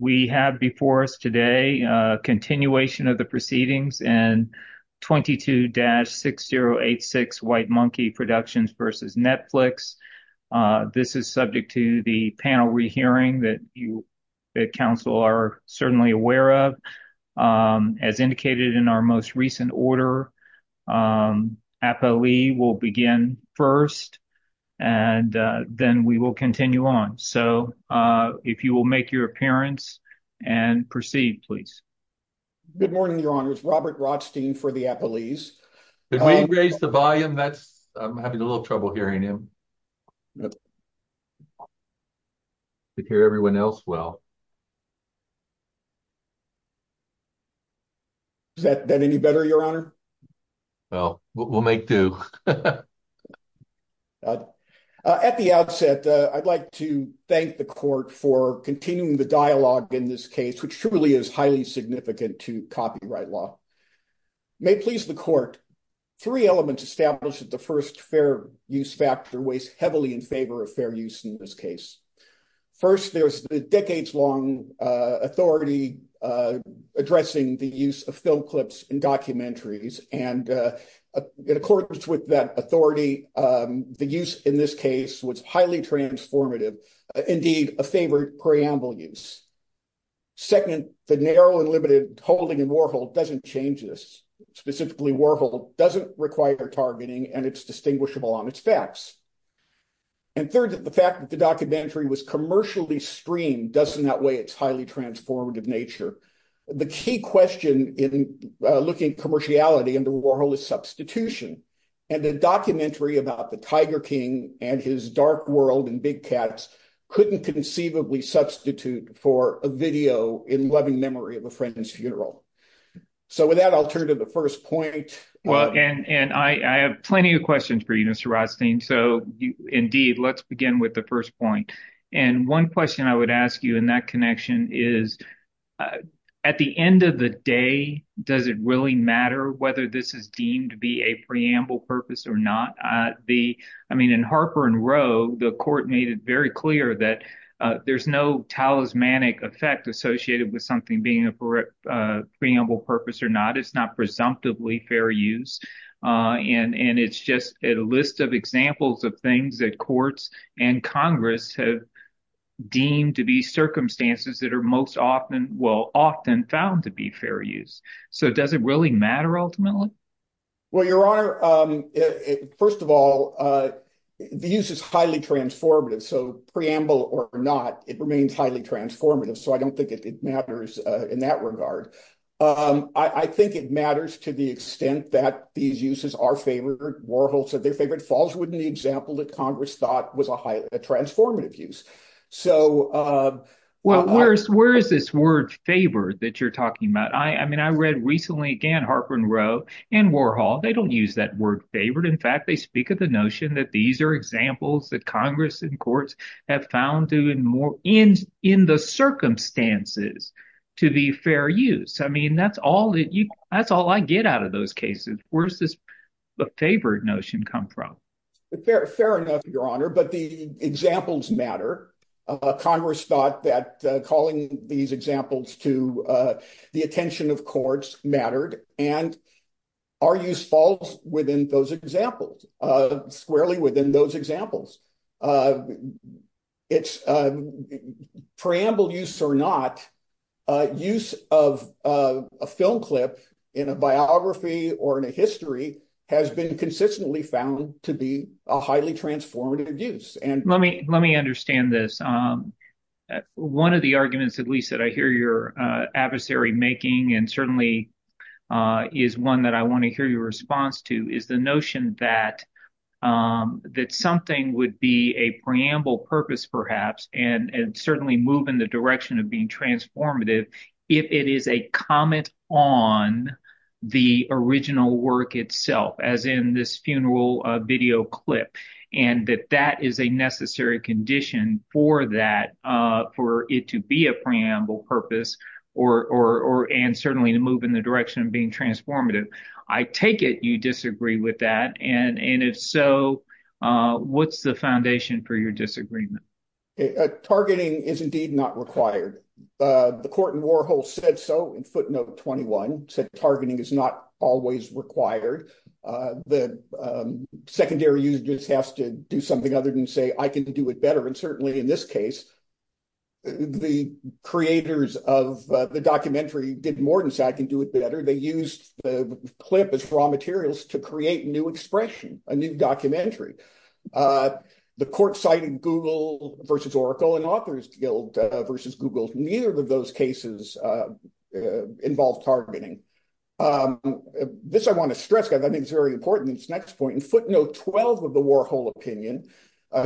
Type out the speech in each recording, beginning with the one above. We have before us today a continuation of the proceedings and 22-6086 White Monkee Productions v. Netflix. This is subject to the panel re-hearing that you, the Council, are certainly aware of. As indicated in our most recent order, APOE will begin first and then we will continue on. So if you will make your appearance and proceed, please. Good morning, Your Honor. It's Robert Rothstein for the Apolese. May I raise the volume? I'm having a little trouble hearing him. I can hear everyone else well. Is that any better, Your Honor? Well, we'll make do. At the outset, I'd like to thank the Court for continuing the dialogue in this case, which truly is highly significant to copyright law. May it please the Court, three elements established that the first fair use factor weighs heavily in favor of fair use in this case. First, there's the decades-long authority addressing the use of film clips and documentaries, and in accordance with that authority, the use in this case was highly transformative, indeed, a favored preamble use. Second, the narrow and limited holding in Warhol doesn't change this. Specifically, Warhol doesn't require targeting and it's distinguishable on its facts. And third, the fact that the documentary was commercially streamed does, in that way, its highly transformative nature. The key question in looking at commerciality in the Warhol is substitution, and the documentary about the Tiger King and his dark world and big cats couldn't conceivably substitute for a video in loving memory of a friend's funeral. So with that, I'll turn to the first point. Well, and I have plenty of questions for you, Mr. Rothstein. So indeed, let's begin with the first point. And one question I would ask you in that connection is, at the end of the day, does it really matter whether this is deemed to be a preamble purpose or not? I mean, in Harper and Row, the court made it very clear that there's no talismanic effect associated with something being a preamble purpose or not. It's not presumptively fair use. And it's just a list of examples of things that courts and Congress have deemed to be circumstances that are most often, well, often found to be fair use. So does it really matter, ultimately? Well, Your Honor, first of all, the use is highly transformative. So preamble or not, it remains highly transformative. So I don't think it matters in that regard. I think it to the extent that these uses are favored. Warhol said their favorite falls within the example that Congress thought was a transformative use. So... Well, where is this word favored that you're talking about? I mean, I read recently again, Harper and Row and Warhol, they don't use that word favored. In fact, they speak of the notion that these are examples that Congress and courts have found in the circumstances to be fair use. I mean, that's all I get out of those cases. Where's the favored notion come from? Fair enough, Your Honor, but the examples matter. Congress thought that calling these examples to the attention of courts mattered and our use falls within those examples, squarely within those examples. It's preamble use or not, use of a film clip in a biography or in a history has been consistently found to be a highly transformative use. Let me understand this. One of the arguments that we said, I hear your adversary making, and certainly is one that I want to hear your response to, is the notion that something would be a preamble purpose, perhaps, and certainly move in the direction of being transformative if it is a comment on the original work itself, as in this funeral video clip, and that that is a necessary condition for that, for it to be a preamble purpose and certainly to move in the direction of being transformative. I take it you disagree with that, and if so, what's the foundation for your disagreement? Targeting is indeed not required. The court in Warhol said so in footnote 21, said targeting is not always required. The I can do it better, and certainly in this case, the creators of the documentary did more than say I can do it better. They used the clip as raw materials to create new expression, a new documentary. The court cited Google versus Oracle and Authors Guild versus Google. Neither of those cases involved targeting. This I want to stress, because I think it's very important, in footnote 12 of the Warhol opinion,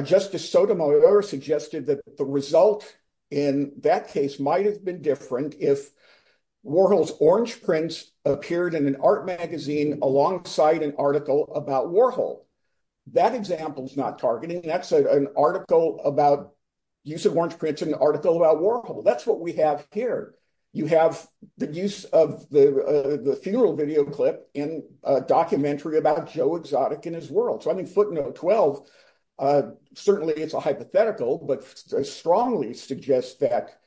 Justice Sotomayor suggested that the result in that case might have been different if Warhol's orange prints appeared in an art magazine alongside an article about Warhol. That example is not targeting. That's an article about use of orange prints in an article about Warhol. That's what we have here. You have the use of the funeral video in a documentary about Joe Exotic and his world. Footnote 12, certainly it's a hypothetical, but I strongly suggest that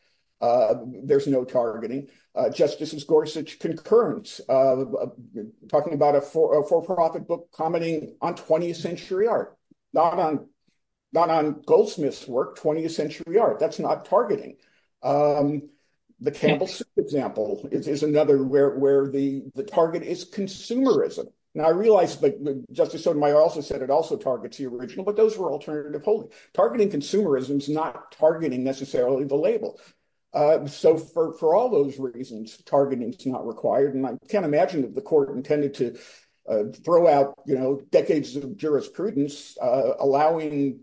there's no targeting. Justices Gorsuch concurrence, talking about a for-profit book commenting on 20th century art, not on Goldsmith's work, 20th century art. That's not targeting. The Campbell's example is another where the target is consumerism. Now, I realize that Justice Sotomayor also said it also targets the original, but those were alternative holdings. Targeting consumerism is not targeting necessarily the label. For all those reasons, targeting is not required. I can't imagine that the court intended to throw out decades of jurisprudence, finding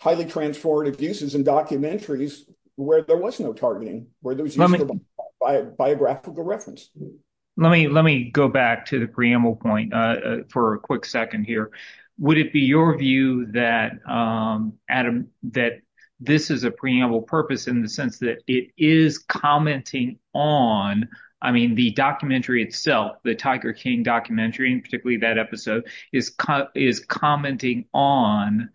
highly transformative uses in documentaries where there was no targeting, where there's no biographical reference. Let me go back to the preamble point for a quick second here. Would it be your view that, Adam, that this is a preamble purpose in the sense that it is commenting on, I mean, the documentary itself, the Tiger King documentary, and particularly that episode, is commenting on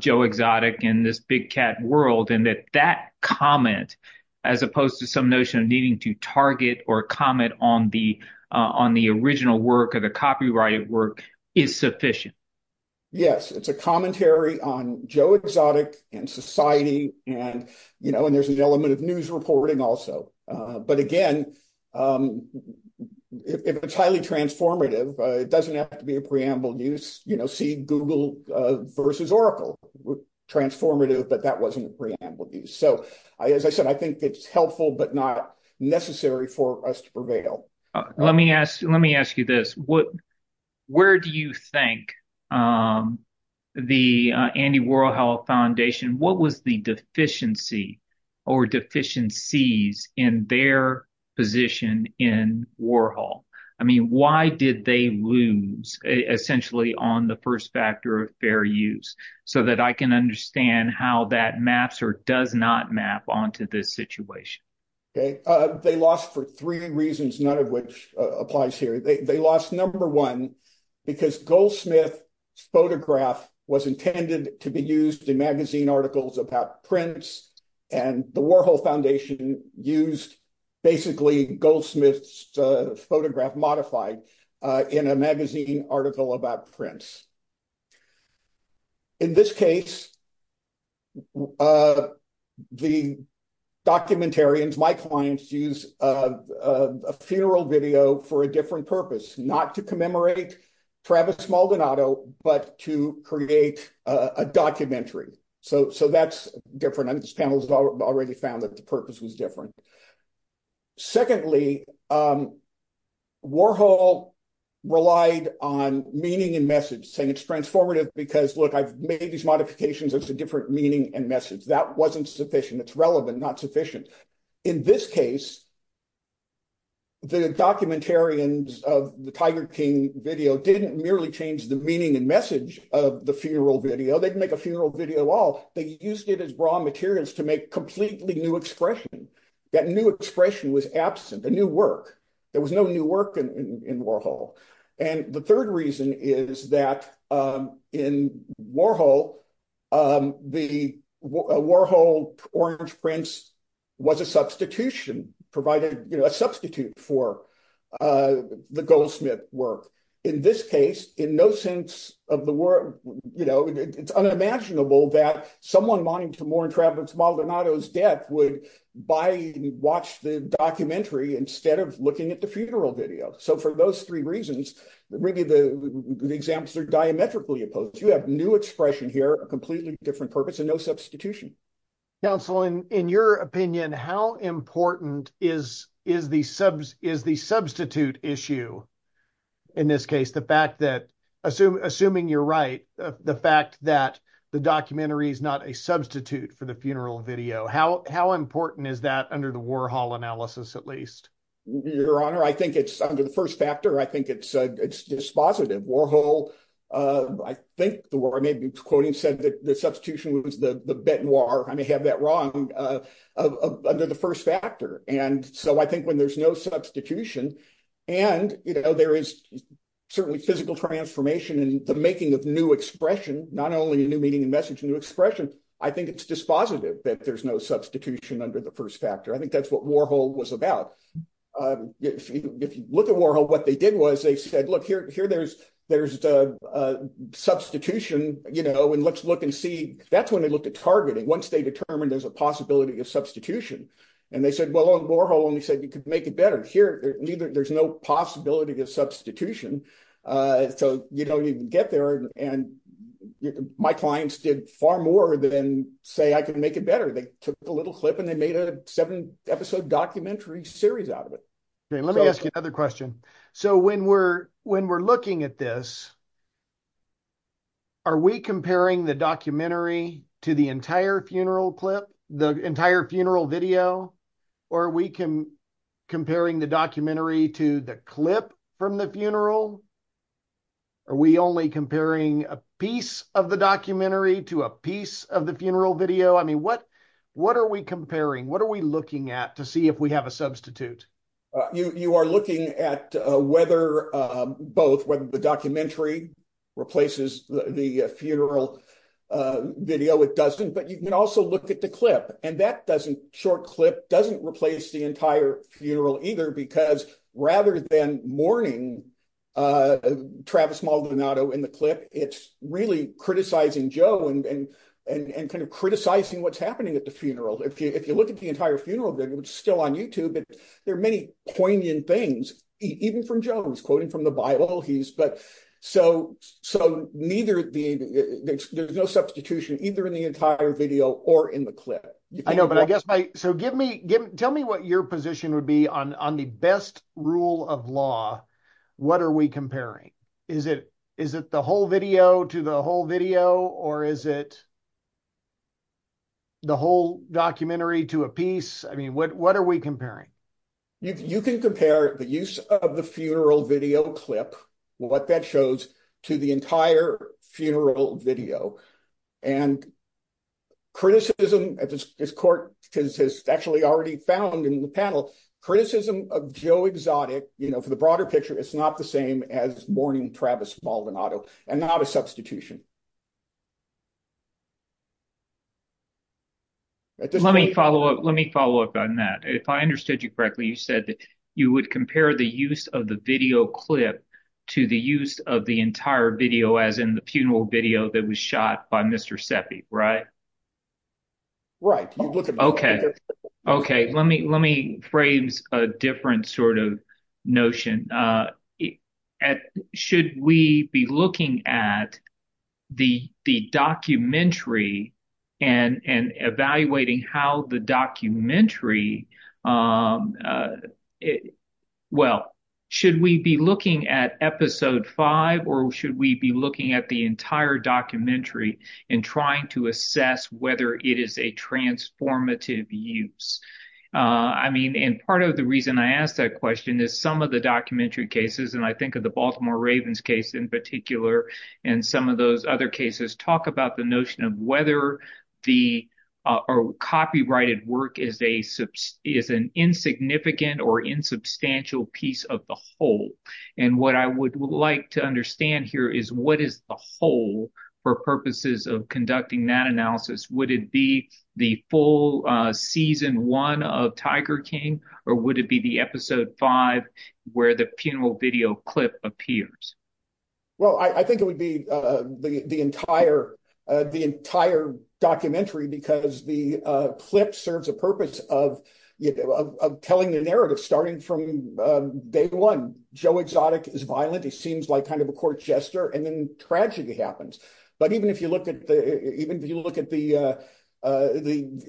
Joe Exotic and this big cat world, and that that comment, as opposed to some notion of needing to target or comment on the original work or the copyrighted work, is sufficient? Yes. It's a commentary on Joe Exotic and society, and there's the element of news reporting also. But again, if it's highly transformative, it doesn't have to be a preamble news. See Google versus Oracle were transformative, but that wasn't a preamble news. As I said, I think it's helpful, but not necessary for us to prevail. Let me ask you this. Where do you think the Andy Warhol Foundation, what was the deficiency or deficiencies in their position in Warhol? I mean, why did they lose essentially on the first factor of their use, so that I can understand how that maps or does not map onto this situation? They lost for three reasons, none of which applies here. They lost, number one, because Goldsmith's photograph was intended to be used in magazine articles about Prince, and the Warhol Foundation used basically Goldsmith's photograph modified in a magazine article about Prince. In this case, the documentarians, my clients, used a funeral video for a different purpose, not to commemorate Travis Maldonado, but to create a documentary. So that's different. This panel has already found that the purpose was different. Secondly, Warhol relied on meaning and message, saying it's transformative because, look, I've made these modifications. It's a different meaning and message. That wasn't sufficient. It's relevant, not sufficient. In this case, the documentarians of the Tiger King video didn't merely change the meaning and message of the funeral video. They didn't make a funeral video off. They used it as raw materials to make completely new expression. That new expression was absent, a new work. There was no new work in Warhol. And the third reason is that in Warhol, the Warhol Orange Prince was a substitution, provided a substitute for the Goldsmith work. In this case, in no sense of the world, it's unimaginable that someone wanting to mourn Travis Maldonado's death would buy and watch the documentary instead of looking at the funeral video. So for those three reasons, really the examples are diametrically opposed. You have new expression here, a completely different purpose, and no substitution. Counsel, in your opinion, how important is the substitute issue in this case? Assuming you're right, the fact that the documentary is not a substitute for the funeral video, how important is that under the Warhol analysis at least? Your Honor, I think it's, under the first chapter, I think it's dispositive. Warhol, I think, or I may be quoting, said that the substitution was the benoir, I may have that wrong, under the first factor. And so I think when there's no substitution, and there is certainly physical transformation in the making of new expression, not only a new meaning and message, a new expression, I think it's dispositive that there's no substitution under the first factor. I think that's what Warhol was about. If you look at Warhol, what they did was they said, look, here there's a substitution, and let's look and see. That's when they looked at targeting, once they determined there's a possibility of substitution. And they said, well, Warhol only said you could make it better. Here, there's no possibility of substitution. So you can get there, and my clients did far more than say I can make it better. They took a little clip, and they made a seven-episode documentary series out of it. Okay, let me ask you another question. So when we're looking at this, are we comparing the documentary to the entire funeral clip, the entire funeral video, or are we comparing the documentary to the clip from the funeral? Are we only comparing a piece of the documentary to a piece of the funeral video? I mean, what are we comparing? What are we looking at to see if we have a substitute? You are looking at whether both, whether the replaces the funeral video with Dustin, but you can also look at the clip, and that short clip doesn't replace the entire funeral either, because rather than mourning Travis Maldonado in the clip, it's really criticizing Joe and kind of criticizing what's happening at the funeral. If you look at the entire funeral video, it's still on YouTube, but there are many poignant things, even from Jones, quoting from the Bible. So there's no substitution either in the entire video or in the clip. I know, but I guess my... So tell me what your position would be on the best rule of law. What are we comparing? Is it the whole video to the whole video, or is it the whole documentary to a piece? I mean, what are we comparing? You can compare the use of the funeral video clip, what that shows, to the entire funeral video. And criticism, as this court has actually already found in the panel, criticism of Joe Exotic, you know, for the broader picture, it's not the same as mourning Travis Maldonado and not a documentary. Let me follow up on that. If I understood you correctly, you said that you would compare the use of the video clip to the use of the entire video, as in the funeral video that was shot by Mr. Seffi, right? Right. Okay. Okay. Let me phrase a different sort of notion. Should we be looking at the documentary and evaluating how the documentary... Well, should we be looking at episode five, or should we be looking at the documentary and trying to assess whether it is a transformative use? I mean, and part of the reason I asked that question is some of the documentary cases, and I think of the Baltimore Ravens case in particular, and some of those other cases, talk about the notion of whether the copyrighted work is an insignificant or insubstantial piece of the whole. And what I would like to understand here is, what is the whole for purposes of conducting that analysis? Would it be the full season one of Tiger King, or would it be the episode five where the funeral video clip appears? Well, I think it would be the entire documentary, because the clip serves a purpose of telling the narrative starting from day one. Joe Exotic is violent. He seems like kind of a court jester, and then tragedy happens. But even if you look at the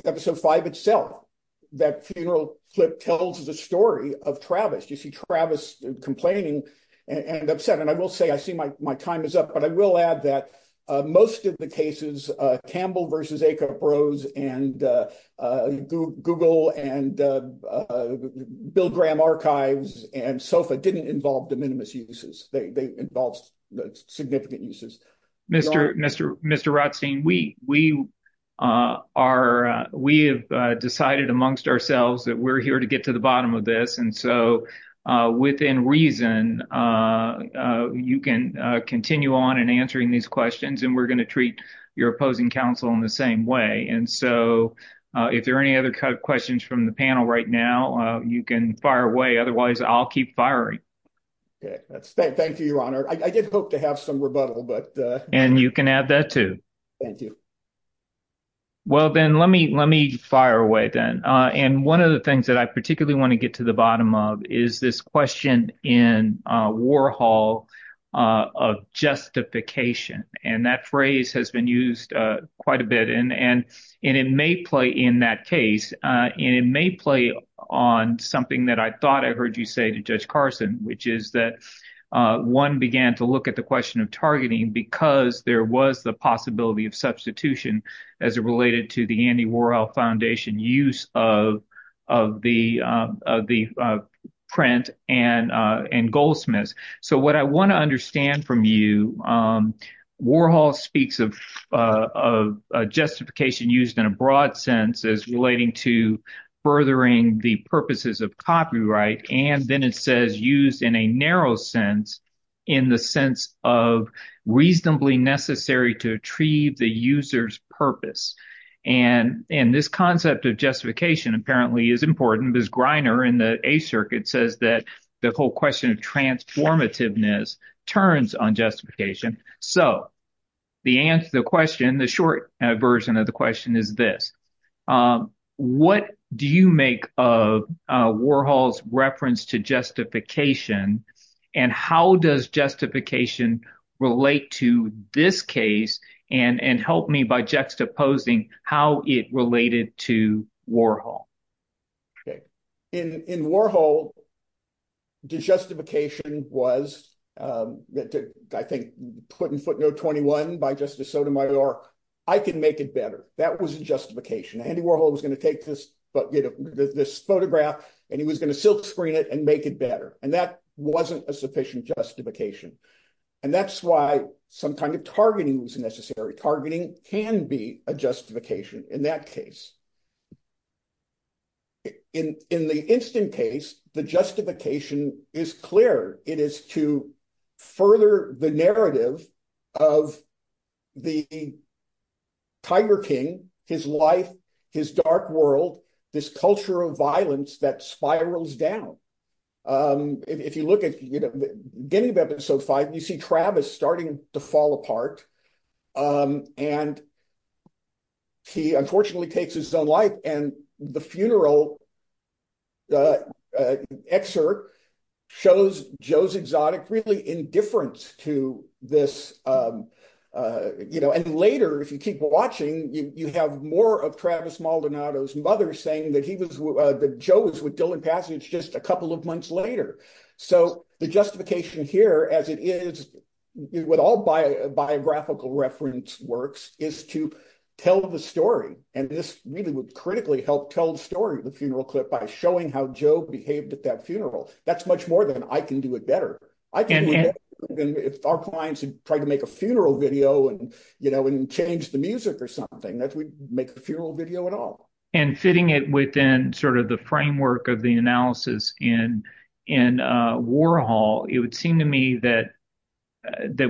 episode five itself, that funeral clip tells the story of Travis. You see Travis complaining and upset. And I will say, I see my time is up, but I will add that most of the cases, Campbell v. Acuff-Rose, and Google, and Bill Graham Archives, and SOFA, didn't involve de minimis uses. They involved significant uses. Mr. Rothstein, we have decided amongst ourselves that we're here to get to the bottom of this, and so within reason, you can continue on in answering these questions, and we're going to treat your opposing counsel in the same way. And so, if there are any other questions from the panel right now, you can fire away. Otherwise, I'll keep firing. Thank you, your honor. I did hope to have some rebuttal, but- And you can add that too. Thank you. Well, Ben, let me fire away then. And one of the things that I particularly want to get to the bottom of is this question in Warhol of justification. And that phrase has been used quite a bit, and it may play in that case. It may play on something that I thought I heard you say to Judge Carson, which is that one began to look at the question of targeting because there was the possibility of substitution as it related to the Andy Warhol Foundation use of the print and Goldsmiths. So, what I want to understand from you, Warhol speaks of justification used in a broad sense as relating to furthering the purposes of copyright, and then it says used in a narrow sense in the sense of reasonably necessary to achieve the user's purpose. And this concept of justification apparently is important. This grinder in the A circuit says that the whole question of transformativeness turns on justification. So, the answer to the question, the short version of the How does justification relate to this case and help me by juxtaposing how it related to Warhol? In Warhol, the justification was, I think, put in footnote 21 by Justice Sotomayor, I can make it better. That was justification. Andy Warhol was going to take this photograph, and he was going to silkscreen it and make it better. And that wasn't a sufficient justification. And that's why some kind of targeting is necessary. Targeting can be a justification in that case. In the instant case, the justification is clear. It is to further the narrative of the Tiger King, his life, his dark world, his culture of violence that spirals down. If you look at the beginning of episode five, you see Travis starting to fall apart, and he unfortunately takes his own life. And the funeral excerpt shows Joe's exotic really indifference to this. And later, if you keep watching, you have more of Travis Maldonado's mother saying that Joe was with Dylan Passage just a couple of months later. So, the justification here, as it is with all biographical reference works, is to tell the story. And this really would critically help tell the story of the funeral clip by showing how Joe behaved at that funeral. That's much more than, I can do it better. If our clients would try to make a funeral video and change the music or something, that would make the funeral video at all. And fitting it within sort of the framework of the analysis in Warhol, it would seem to me that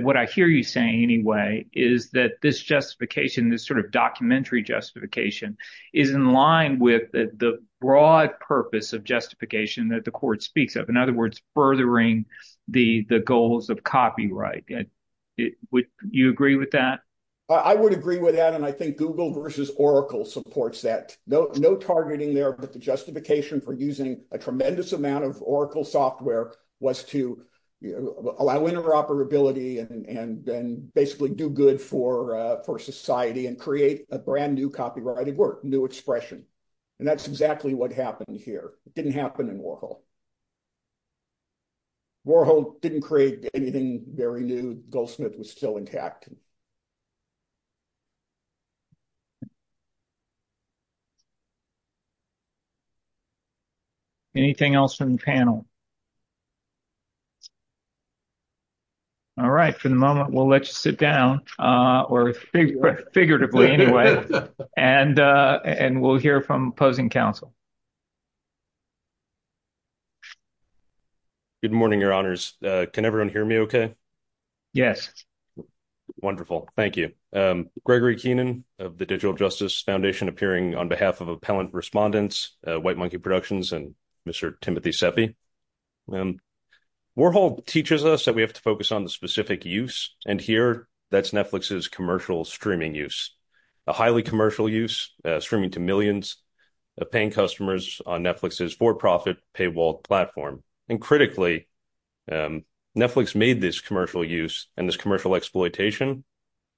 what I hear you saying anyway is that this justification, this sort of documentary justification, is in line with the broad purpose of justification that the court speaks of. In other words, furthering the goals of copyright. Would you agree with that? I would agree with that, and I think Google versus Oracle supports that. No targeting there, but the justification for using a tremendous amount of Oracle software was to allow interoperability and then basically do for society and create a brand new copyrighted work, new expression. And that's exactly what happened here. It didn't happen in Warhol. Warhol didn't create anything very new. Goldsmith was still intact. Anything else from the panel? All right. For the moment, we'll let you sit down, or figuratively anyway, and we'll hear from opposing counsel. Good morning, Your Honors. Can everyone hear me okay? Yes. Wonderful. Thank you. Gregory Keenan of the Digital Justice Foundation, appearing on behalf of appellant respondents, White Monkey Productions, and Mr. Timothy Sepe. Warhol teaches us that we have to focus on the specific use, and here that's Netflix's commercial streaming use. A highly commercial use, streaming to millions of paying customers on Netflix's for-profit paywall platform. And critically, Netflix made this commercial use, and this commercial exploitation,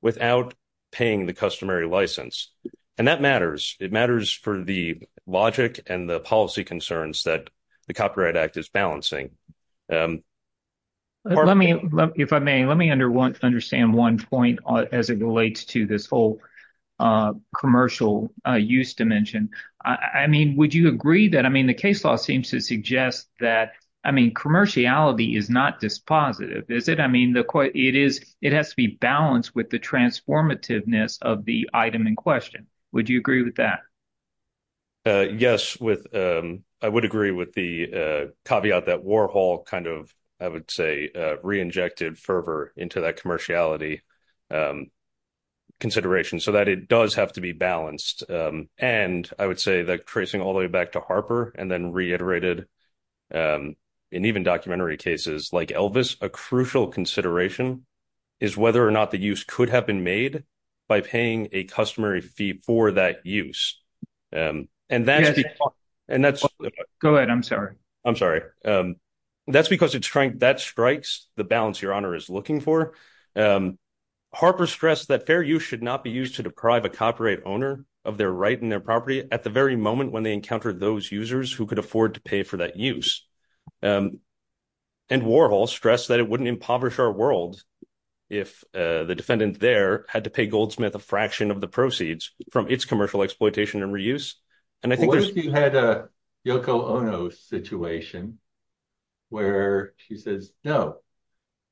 without paying the customary license. And that matters. It matters for the logic and the policy concerns that the Copyright Act is balancing. If I may, let me understand one point as it relates to this whole commercial use dimension. Would you agree that the case law seems to suggest that commerciality is not dispositive, I mean, it has to be balanced with the transformativeness of the item in question. Would you agree with that? Yes. I would agree with the caveat that Warhol kind of, I would say, re-injected fervor into that commerciality consideration, so that it does have to be balanced. And I would say that tracing all the way back to Harper, and then reiterated in even documentary cases, like Elvis, a crucial consideration is whether or not the use could have been made by paying a customary fee for that use. And that's... Go ahead, I'm sorry. I'm sorry. That's because it's trying, that strikes the balance Your Honor is looking for. Harper stressed that fair use should not be used to deprive a copyright owner of their right in their property at the very moment when they encounter those users who could afford to pay for that use. And Warhol stressed that it wouldn't impoverish our world if the defendant there had to pay Goldsmith a fraction of the proceeds from its commercial exploitation and reuse. What if you had a Yoko Ono situation where she says, no,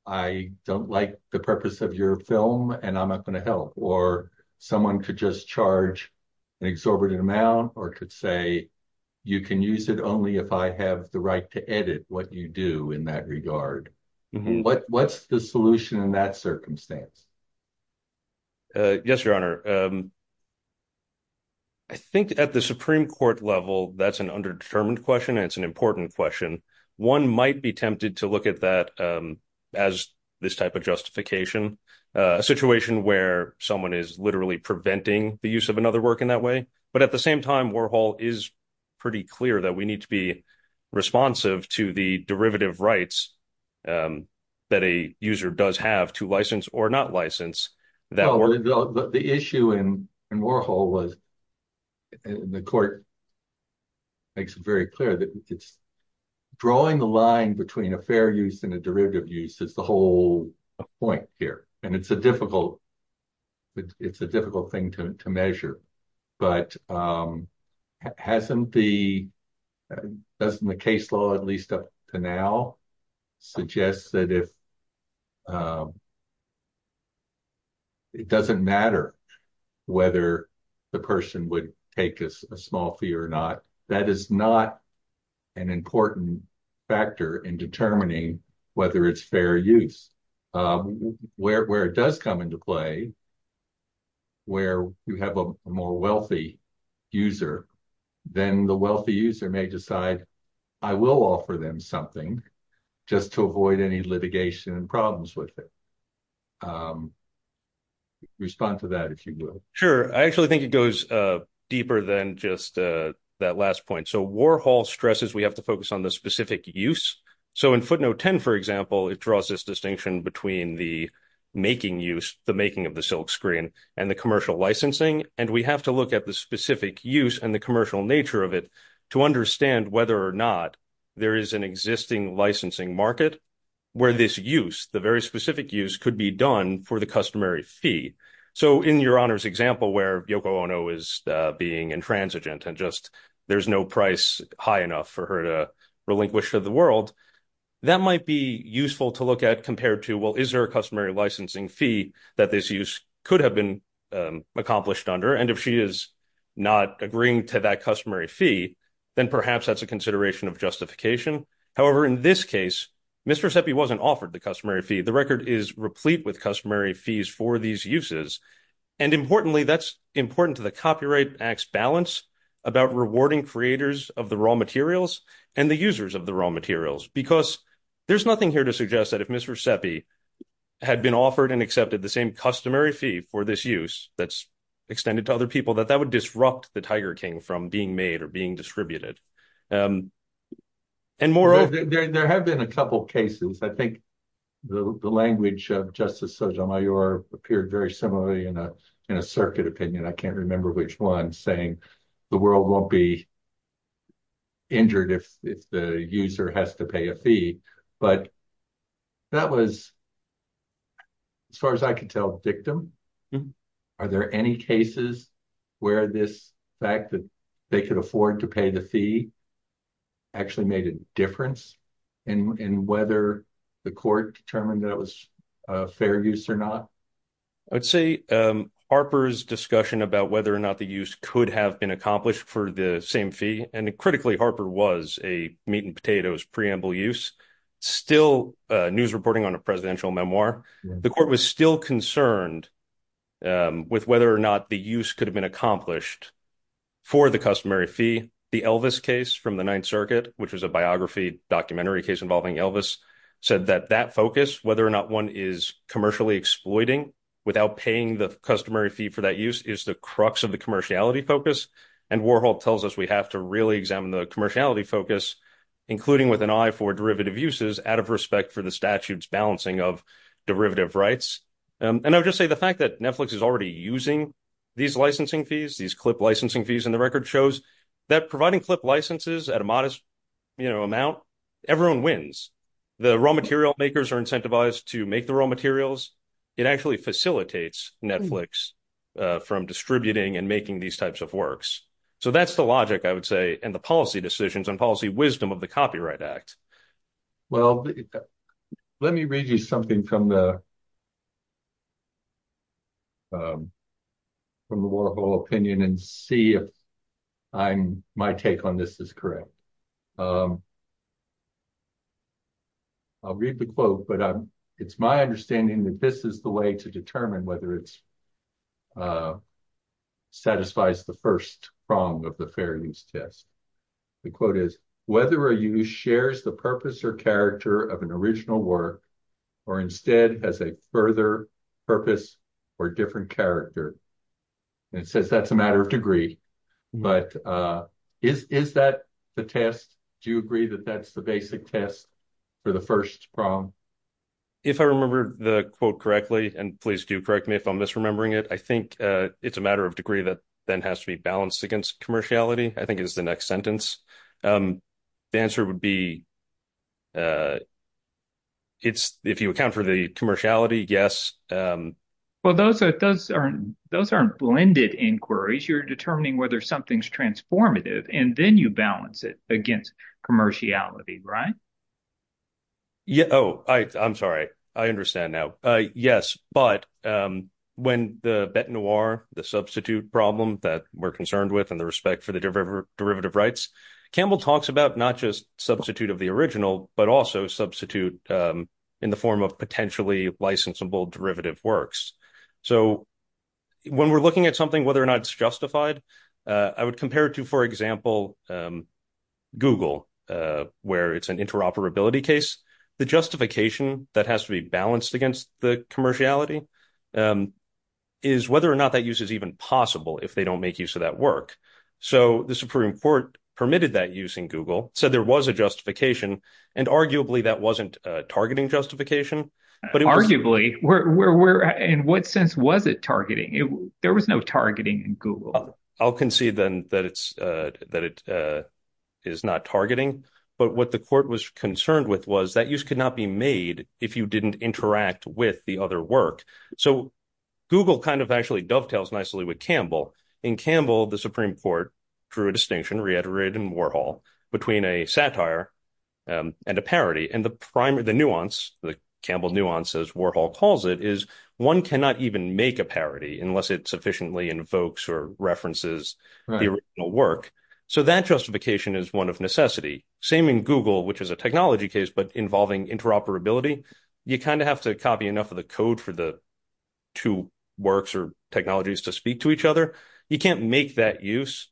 I don't like the purpose of your film, and I'm not going to help. Or someone could just charge an exorbitant amount, or could say, you can use it only if I have the right to edit what you do in that regard. What's the solution in that circumstance? Yes, Your Honor. I think at the Supreme Court level, that's an underdetermined question, and it's an important question. One might be tempted to look at that as this type of justification, a situation where someone is preventing the use of another work in that way. But at the same time, Warhol is pretty clear that we need to be responsive to the derivative rights that a user does have to license or not license. The issue in Warhol was, and the court makes it very clear, that drawing the line between a fair use and a derivative use is the whole point here. It's a difficult thing to measure. But doesn't the case law, at least up to now, suggest that it doesn't matter whether the person would take a small fee or not? That is not an important factor in determining whether it's fair use. Where it does come into play, where you have a more wealthy user, then the wealthy user may decide, I will offer them something just to avoid any litigation and problems with it. Could you respond to that if you would? Sure. I actually think it goes deeper than just that last point. Warhol stresses we have to focus on the specific use. In footnote 10, for example, it draws this distinction between the making use, the making of the silkscreen, and the commercial licensing. We have to look at the specific use and the commercial nature of it to understand whether or not there is an existing licensing market where this use, the very specific use, could be done for the customary fee. In Your Honor's example where Yoko Ono is being intransigent and there's no price high enough for her to relinquish to the world, that might be useful to look at compared to, well, is there a customary licensing fee that this use could have been accomplished under? If she is not agreeing to that customary fee, then perhaps that's a consideration of justification. However, in this case, Ms. Recepi wasn't offered the customary fee. The record is replete with customary fees for these uses. Importantly, that's important to the Copyright Act's balance about rewarding creators of the raw materials and the users of the raw materials because there's nothing here to suggest that if Ms. Recepi had been offered and accepted the same customary fee for this use that's extended to other people that that would disrupt the Tiger King from being made or being distributed. There have been a couple of cases. I think the language of Justice Sotomayor appeared very similarly in a circuit opinion, I can't remember which one, saying the world won't be injured if the user has to pay a fee. But that was, as far as I can tell, victim. Are there any cases where this fact that they could afford to pay the fee actually made a difference in whether the court determined that it was a fair use or not? I'd say Harper's discussion about whether or not the use could have been accomplished for the same fee, and critically Harper was a meat and potatoes preamble use, still news reporting on a presidential memoir. The court was still concerned with whether or not the use could have been accomplished for the customary fee. The Elvis case from the Ninth Circuit, which is a biography documentary case involving Elvis, said that that focus, whether or not one is commercially exploiting without paying the customary fee for that use, is the crux of the commerciality focus. And Warhol tells us we have to really examine the commerciality focus, including with an eye for derivative uses, out of respect for the statute's balancing of derivative rights. And I would just say the fact that Netflix is already using these licensing fees, these clip licensing fees, and the record shows that providing clip licenses at a modest amount, everyone wins. The raw material makers are incentivized to make the raw materials. It actually facilitates Netflix from distributing and making these types of works. So that's the logic, I would say, and the policy decisions and policy wisdom of the Copyright Act. Well, let me read you something from the Warhol opinion and see if my take on this is correct. I'll read the quote, but it's my understanding that this is the way to determine whether it's satisfies the first prong of the Fair Use Test. The quote is, whether a use shares the purpose or character of an original work or instead has a further purpose or different character. It says that's a matter of degree, but is that the test? Do you agree that that's the basic test for the first prong? If I remember the quote correctly, and please do correct me if I'm misremembering it, I think it's a matter of degree that then has to be balanced against commerciality. I think it was the next sentence. The answer would be, if you account for the commerciality, yes. Well, those aren't blended inquiries. You're determining whether something's transformative, and then you balance it against commerciality, right? Oh, I'm sorry. I understand now. Yes, but when the Bete Noire, the substitute problem that we're concerned with in the respect for the derivative rights, Campbell talks about not just substitute of the original, but also substitute in the form of potentially licensable derivative works. So when we're looking at something, whether or not it's justified, I would compare it to, for example, Google, where it's an interoperability case. The justification that has to be balanced against the commerciality is whether or not that use is even possible if they don't make use of that work. So the Supreme Court permitted that use in Google, said there was a justification, and arguably that wasn't a targeting justification. Arguably? In what sense was it targeting? There was no targeting in Google. I'll concede then that it is not targeting, but what the court was concerned with was that use could not be made if you didn't interact with the other work. So Google kind of actually dovetails nicely with Campbell. In Campbell, the Supreme Court drew a distinction, reiterated in Warhol, between a satire and a parody, and the nuance, the Campbell nuance, as Warhol calls it, is one cannot even make a parody unless it sufficiently invokes or references the original work. So that justification is one of necessity. Same in Google, which is a technology case, but involving interoperability, you kind of have to copy enough of the code for the two works or technologies to speak to each other. You can't make that use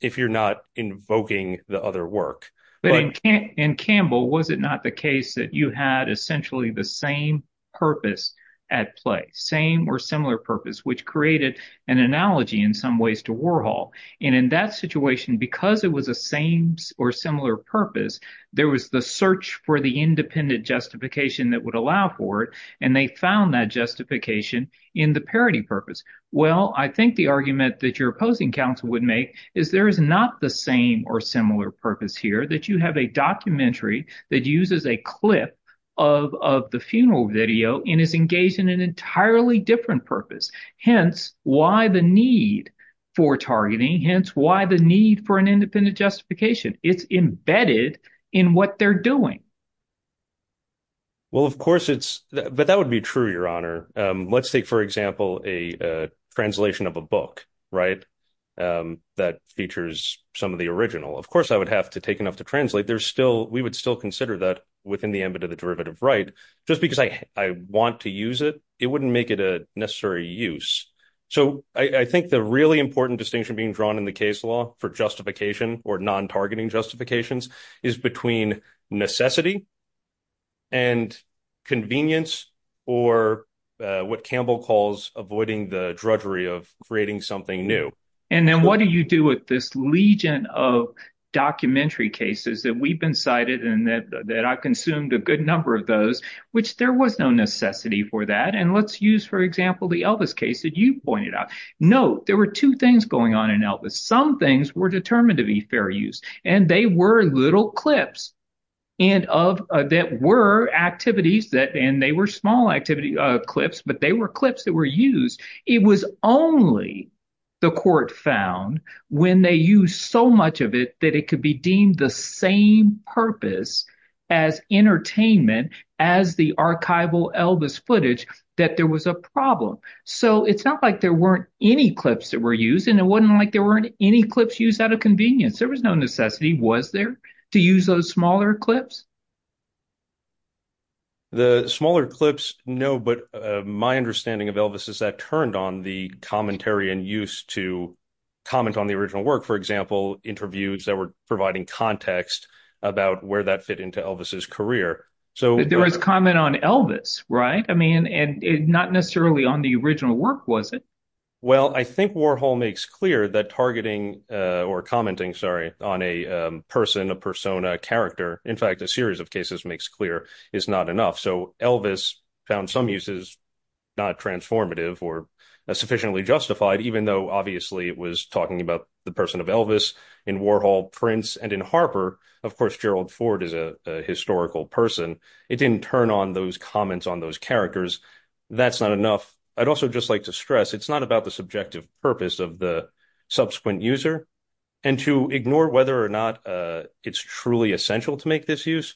if you're not invoking the other work. In Campbell, was it not a case that you had essentially the same purpose at play, same or similar purpose, which created an analogy in some ways to Warhol? In that situation, because it was the same or similar purpose, there was the search for the independent justification that would allow for it, and they found that justification in the parody purpose. Well, I think the argument that your opposing counsel would make is there is not the same or similar purpose here, that you have a documentary that uses a clip of the funeral video and is engaged in an entirely different purpose. Hence, why the need for targeting? Hence, why the need for an independent justification? It's embedded in what they're doing. Well, of course it's, but that would be true, Your Honor. Let's take, for example, a translation of a book, right, that features some of the original. Of course, I would have to take enough to translate. We would still consider that within the ambit of the derivative right. Just because I want to use it, it wouldn't make it a necessary use. So I think the really important distinction being drawn in the case law for justification or non-targeting justifications is between necessity and convenience, or what Campbell calls avoiding the drudgery of creating something new. And then what do you do with this legion of documentary cases that we've been cited and that I consumed a good number of those, which there was no necessity for that. And let's use, for example, the Elvis case that you pointed out. No, there were two things going on in Elvis. Some things were determined to be fair use, and they were little clips that were activities that, and they were small activity clips, but they were clips that were used. It was only the court found when they used so much of it, that it could be deemed the same purpose as entertainment, as the archival Elvis footage, that there was a problem. So it's not like there weren't any clips that were used, and it wasn't like there weren't any clips used out of convenience. There was no necessity, was there, to use those smaller clips? The smaller clips, no, but my understanding of Elvis is that turned on the commentary and use to comment on the original work. For example, interviews that were providing context about where that fit into Elvis's career. So there was comment on Elvis, right? I mean, and not necessarily on the original work, was it? Well, I think Warhol makes clear that targeting or commenting, sorry, on a person, a persona, character, in fact, a series of cases makes clear is not enough. So Elvis found some uses not transformative or sufficiently justified, even though obviously it was talking about the in Warhol prints and in Harper. Of course, Gerald Ford is a historical person. It didn't turn on those comments on those characters. That's not enough. I'd also just like to stress, it's not about the subjective purpose of the subsequent user. And to ignore whether or not it's truly essential to make this use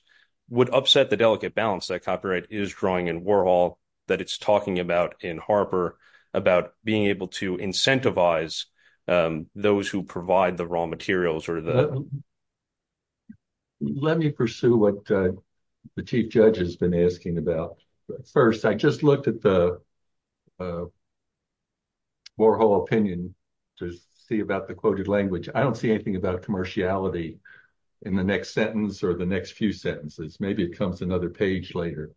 would upset the delicate balance that copyright is drawing in Warhol, that it's talking about in Harper, about being able to incentivize those who provide the materials. Let me pursue what the chief judge has been asking about. First, I just looked at the Warhol opinion to see about the quoted language. I don't see anything about a commerciality in the next sentence or the next few sentences. Maybe it comes another page later,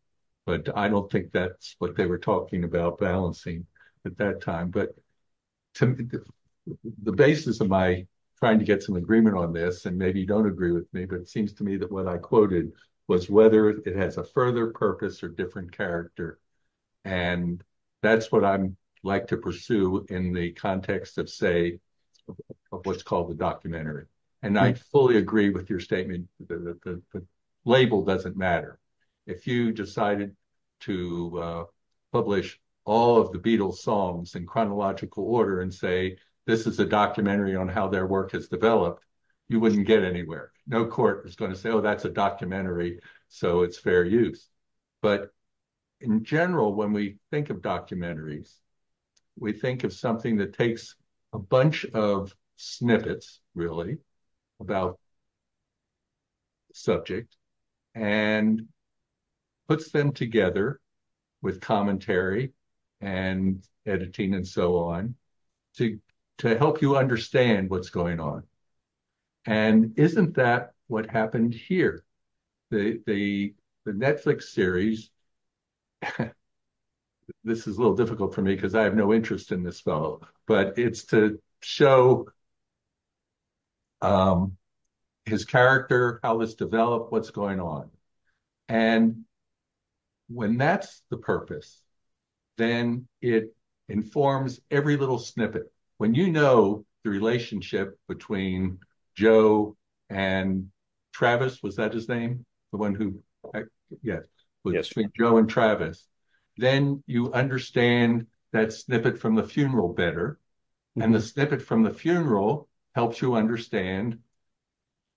but I don't think that's what they were talking about balancing at that time. But the basis of my trying to get some agreement on this, and maybe you don't agree with me, but it seems to me that what I quoted was whether it has a further purpose or different character. And that's what I like to pursue in the context of, say, what's called the documentary. And I fully agree with your statement that the label doesn't matter. If you decided to publish all the Beatles songs in chronological order and say, this is a documentary on how their work has developed, you wouldn't get anywhere. No court is going to say, oh, that's a documentary, so it's fair use. But in general, when we think of documentaries, we think of something that takes a bunch of snippets, really, about subjects and puts them together with commentary and editing and so on to help you understand what's going on. And isn't that what happened here? The Netflix series, this is a little difficult for me because I have no interest in this, but it's to show his character, how it's developed, what's going on. And when that's the purpose, then it informs every little snippet. When you know the relationship between Joe and Travis, was that his name, the one who, yes, Joe and Travis, then you understand that snippet from the funeral better. And the snippet from the funeral helps you understand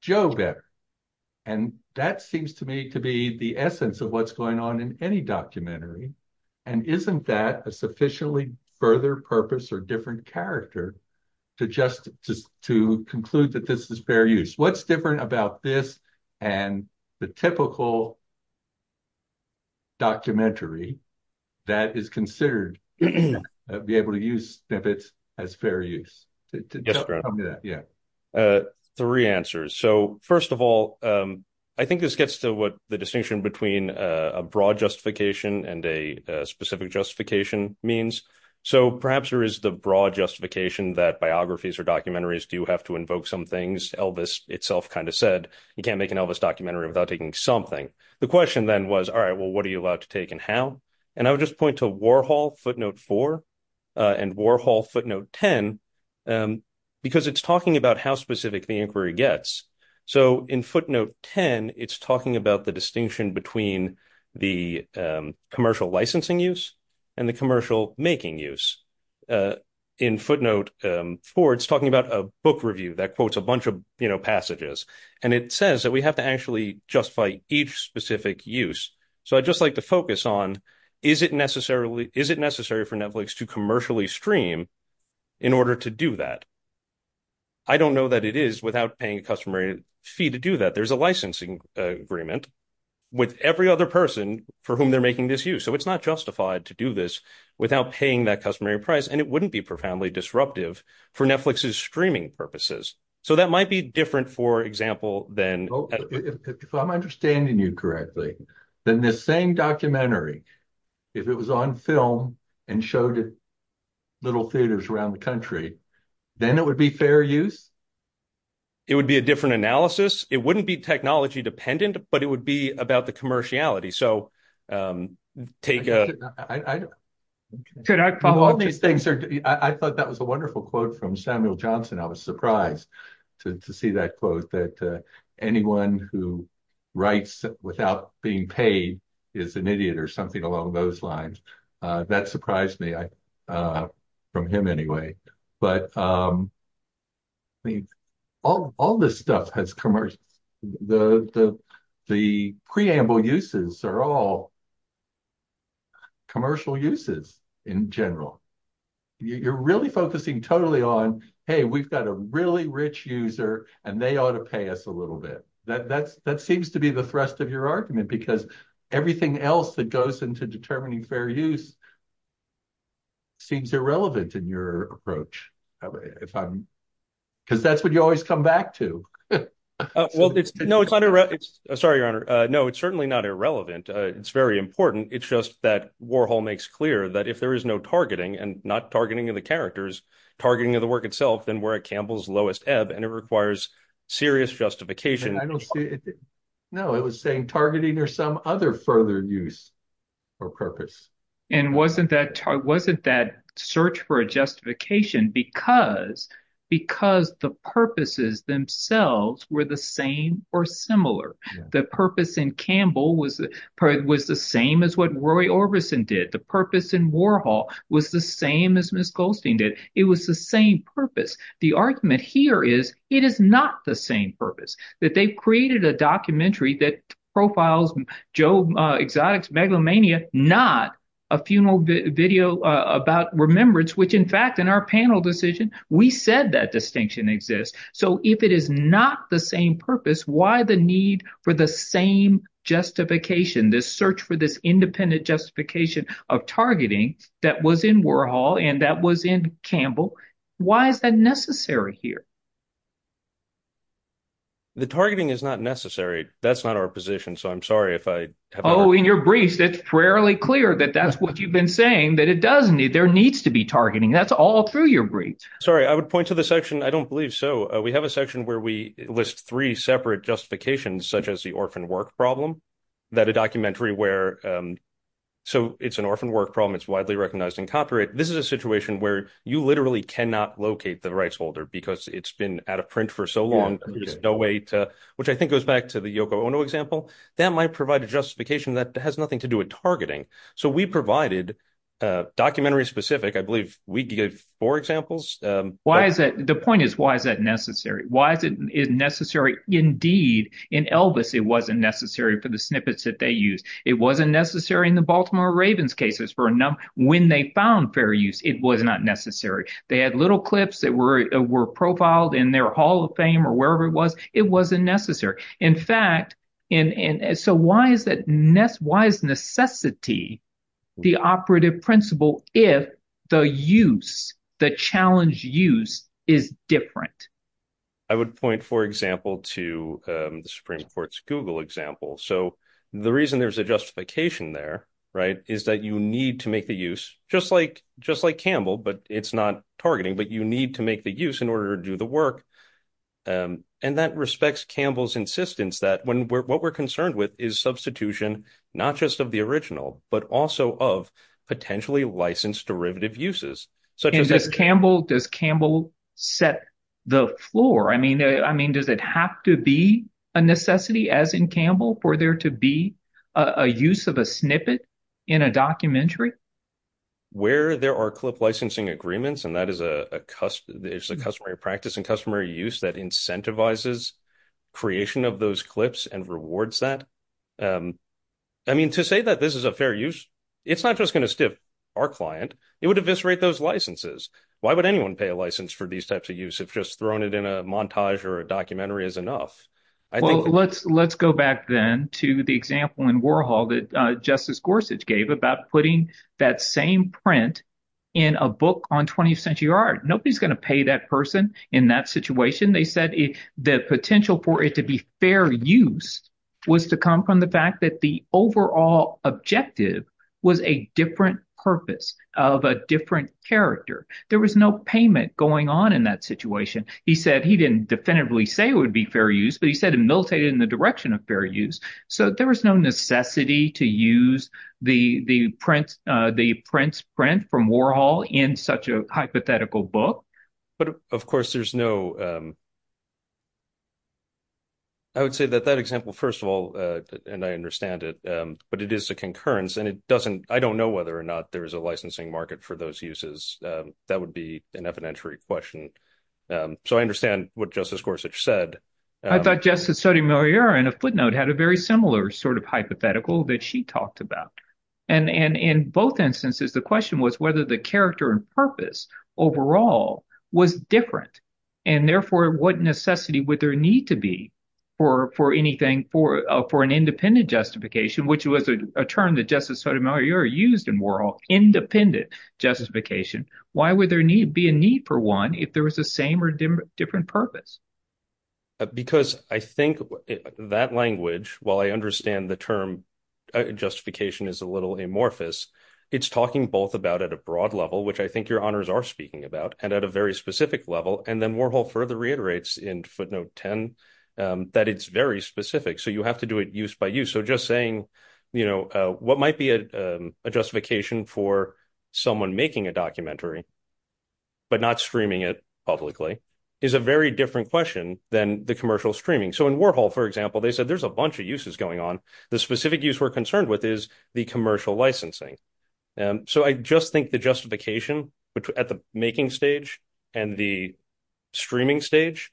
Joe better. And that seems to me to be the essence of what's going on in any documentary. And isn't that a sufficiently further purpose or different character to conclude that this is fair use? What's different about this and the typical documentary that is considered to be able to use snippets as fair use? Tell me that, yeah. Three answers. So, first of all, I think this gets to what the distinction between a broad justification and a specific justification means. So, perhaps there is the broad justification that biographies or documentaries do have to invoke some things. Elvis itself kind of said, you can't make an Elvis documentary without taking something. The question then was, well, what are you allowed to take and how? And I would just point to Warhol footnote four and Warhol footnote 10, because it's talking about how specific the inquiry gets. So, in footnote 10, it's talking about the distinction between the commercial licensing use and the commercial making use. In footnote four, it's talking about a book review that quotes a bunch of passages. And it says that we have to actually justify each specific use so I'd just like to focus on, is it necessary for Netflix to commercially stream in order to do that? I don't know that it is without paying a customary fee to do that. There's a licensing agreement with every other person for whom they're making this use. So, it's not justified to do this without paying that customary price and it wouldn't be profoundly disruptive for Netflix's streaming purposes. So, that might be different, for example, than- The same documentary, if it was on film and showed at little theaters around the country, then it would be fair use? It would be a different analysis. It wouldn't be technology dependent, but it would be about the commerciality. So, take a- I thought that was a wonderful quote from Samuel Johnson. I was surprised to see that quote that anyone who writes without being paid is an idiot or something along those lines. That surprised me from him anyway. But all this stuff has commercial- the preamble uses are all commercial uses in general. You're really focusing totally on, hey, we've got a really rich user and they ought to pay us a little bit. That seems to be the thrust of your argument, because everything else that goes into determining fair use seems irrelevant in your approach. Because that's what you always come back to. No, it's not irrelevant. Sorry, Your Honor. No, certainly not irrelevant. It's very important. It's just that Warhol makes clear that if there is no targeting and not targeting of the characters, targeting of the work itself, then we're at Campbell's lowest ebb and it requires serious justification. No, it was saying targeting or some other further use or purpose. And wasn't that search for a justification because the purposes themselves were the same or similar. The purpose in Campbell was the same as what Roy Orbison did. The purpose in Warhol was the same as Ms. Goldstein did. It was the same purpose. The argument here is it is not the same purpose, that they created a documentary that profiles Joe Exotic's Megalomania, not a funeral video about remembrance, which in fact, in our panel decision, we said that distinction exists. So, if it is not the same purpose, why the need for the same justification, this search for this independent justification of targeting that was in Warhol and that was in Campbell? Why is that necessary here? The targeting is not necessary. That's not our position. So, I'm sorry if I... Oh, in your briefs, it's fairly clear that that's what you've been saying, that it does need, there needs to be targeting. That's all through your briefs. Sorry, I would point to the section, I don't believe so. We have a section where we list three separate justifications, such as the orphan work problem, that a documentary where, so it's an orphan work problem. It's widely recognized in copyright. This is a situation where you literally cannot locate the rights holder because it's been out of print for so long. There's no way to, which I think goes back to the Yoko Ono example, that might provide a justification that has nothing to do with targeting. So, we provided a documentary specific, I believe we did four examples. Why is that? The point is, why is that necessary? Why is it necessary? Indeed, in Elvis, it wasn't necessary for the snippets that they used. It wasn't necessary in the Baltimore Ravens cases. When they found fair use, it was not necessary. They had little clips that were profiled in their Hall of Fame or wherever it was. It wasn't necessary. In fact, so why is necessity the operative principle if the use, the challenge use is different? I would point, for example, to the Supreme Court's Google example. So, the reason there's a justification there is that you need to make the use, just like Campbell, but it's not targeting, but you need to make the use in order to do the work. And that respects Campbell's insistence that what we're concerned with is substitution, not just of the original, but also of potentially licensed derivative uses. Does Campbell set the floor? I mean, does it have to be a necessity, as in Campbell, for there to be a use of a snippet in a documentary? Where there are clip licensing agreements and that is a customary practice and customary use that incentivizes creation of those clips and rewards that? I mean, to say that this is a fair use, it's not just going to stiff our client. It would eviscerate those licenses. Why would anyone pay a license for these types of use if just throwing it in a montage or a documentary is enough? Well, let's go back then to the example in Warhol that Justice Gorsuch gave about putting that same print in a book on 20th Century Art. Nobody's going to pay that person in that situation. They said the potential for it to be fair use was to come from the fact that the overall objective was a different purpose of a different character. There was no payment going on in that situation. He said he didn't definitively say it would be fair use, but he said it was militated in the direction of fair use. So there was no necessity to use the print from Warhol in such a hypothetical book. But of course, there's no... I would say that that example, first of all, and I understand it, but it is a concurrence and it doesn't... I don't know whether or not there's a licensing market for those uses. That would be an evidentiary question. So I understand what Justice Gorsuch said. I thought Justice Sotomayor, in a footnote, had a very similar sort of hypothetical that she talked about. And in both instances, the question was whether the character and purpose overall was different. And therefore, what necessity would there need to be for an independent justification, which was a term that Justice Sotomayor used in Warhol, independent justification. Why would there be a need for one if there was the same or different purpose? Because I think that language, while I understand the term justification is a little amorphous, it's talking both about at a broad level, which I think your honors are speaking about, and at a very specific level. And then Warhol further reiterates in footnote 10, that it's very specific. So you have to do it use by use. So just saying, what might be a justification for someone making a documentary, but not streaming it publicly, is a very different question than the commercial streaming. So in Warhol, for example, they said there's a bunch of uses going on. The specific use we're concerned with is the commercial licensing. So I just think the justification at the making stage and the streaming stage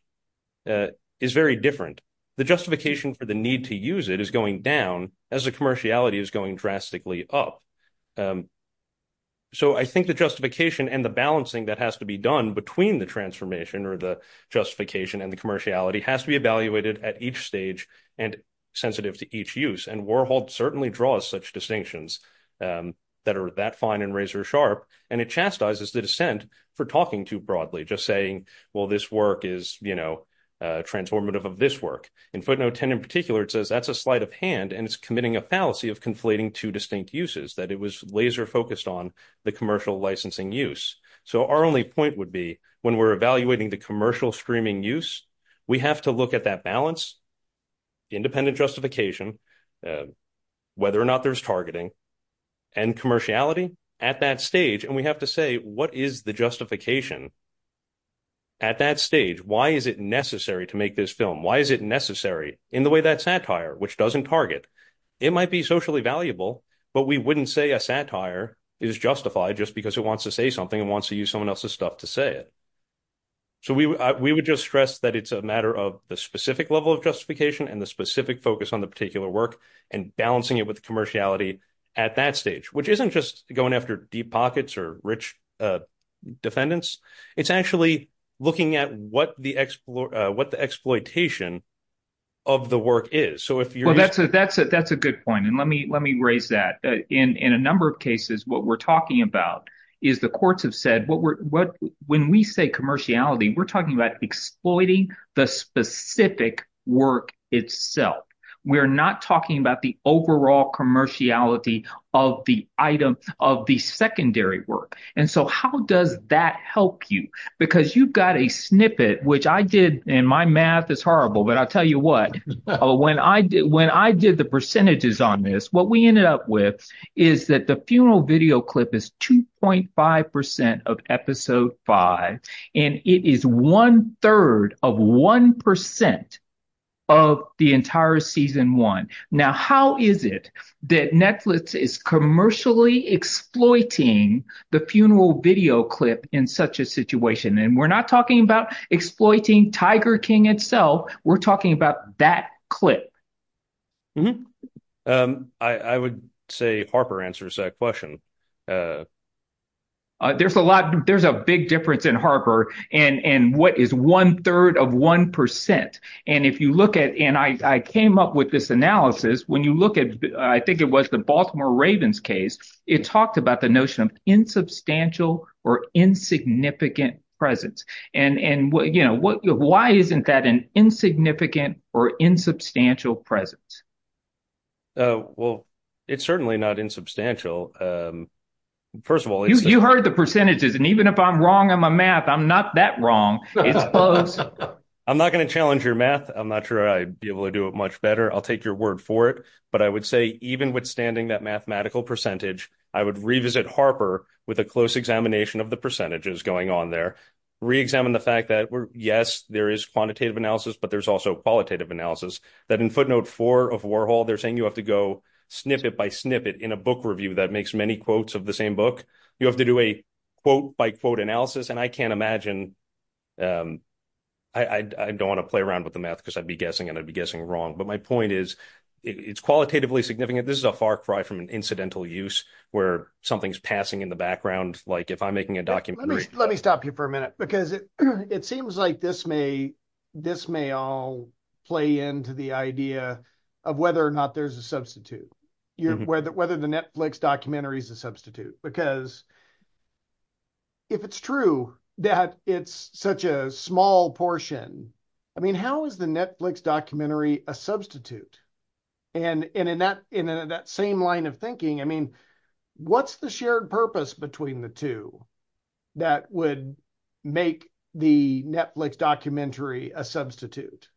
is very different. The justification for the need to use it is going down as the commerciality is going drastically up. So I think the justification and the balancing that has to be done between the transformation or the justification and the commerciality has to be evaluated at each stage and sensitive to each use. And Warhol certainly draws such distinctions that are that fine and razor sharp. And it chastises the dissent for talking too broadly, just saying, well, this work is transformative of this work. In footnote 10 in particular, that's a sleight of hand and it's committing a fallacy of conflating two distinct uses, that it was laser focused on the commercial licensing use. So our only point would be when we're evaluating the commercial streaming use, we have to look at that balance, independent justification, whether or not there's targeting and commerciality at that stage. And we have to say, what is the justification at that stage? Why is it necessary to make this film? Why is it necessary in the way that satire, which doesn't target? It might be socially valuable, but we wouldn't say a satire is justified just because it wants to say something and wants to use someone else's stuff to say it. So we would just stress that it's a matter of the specific level of justification and the specific focus on the particular work and balancing it with the commerciality at that stage, which isn't just going after deep pockets or rich defendants. It's actually looking at what the exploitation of the work is. Well, that's a good point. And let me raise that. In a number of cases, what we're talking about is the courts have said, when we say commerciality, we're talking about exploiting the specific work itself. We're not talking about the overall commerciality of the item, and so how does that help you? Because you've got a snippet, which I did, and my math is horrible, but I'll tell you what. When I did the percentages on this, what we ended up with is that the funeral video clip is 2.5% of episode five, and it is one third of 1% of the entire season one. Now, how is it that Netflix is commercially exploiting the funeral video clip in such a situation? And we're not talking about exploiting Tiger King itself. We're talking about that clip. I would say Harper answers that question. There's a big difference in Harper and what is one third of 1%. And if you look at, and I came up with this analysis, when you look at, I think it was the Baltimore Ravens case, it talks about the notion of insubstantial or insignificant presence. And why isn't that an insignificant or insubstantial presence? Well, it's certainly not insubstantial. First of all, You heard the percentages, and even if I'm wrong in my math, I'm not that wrong. I'm not going to challenge your math. I'm not sure I'd be able to do it much better. I'll take your word for it. But I would say, even withstanding that mathematical percentage, I would revisit Harper with a close examination of the percentages going on there, reexamine the fact that, yes, there is quantitative analysis, but there's also qualitative analysis. That in footnote four of Warhol, they're saying you have to go snippet by snippet in a book review that makes many quotes of the same book. You have to do a quote by quote analysis. And I can't imagine, I don't want to play around with the math because I'd be guessing and I'd be guessing wrong. But my point is, it's qualitatively significant. This is a far cry from an incidental use where something's passing in the background. Like if I'm making a document. Let me stop you for a minute because it seems like this may all play into the idea of whether or not there's a substitute, whether the Netflix documentary is a substitute. Because if it's true that it's such a small portion, I mean, how is the Netflix documentary a substitute? And in that same line of thinking, I mean, what's the shared purpose between the two? That would make the Netflix documentary a substitute.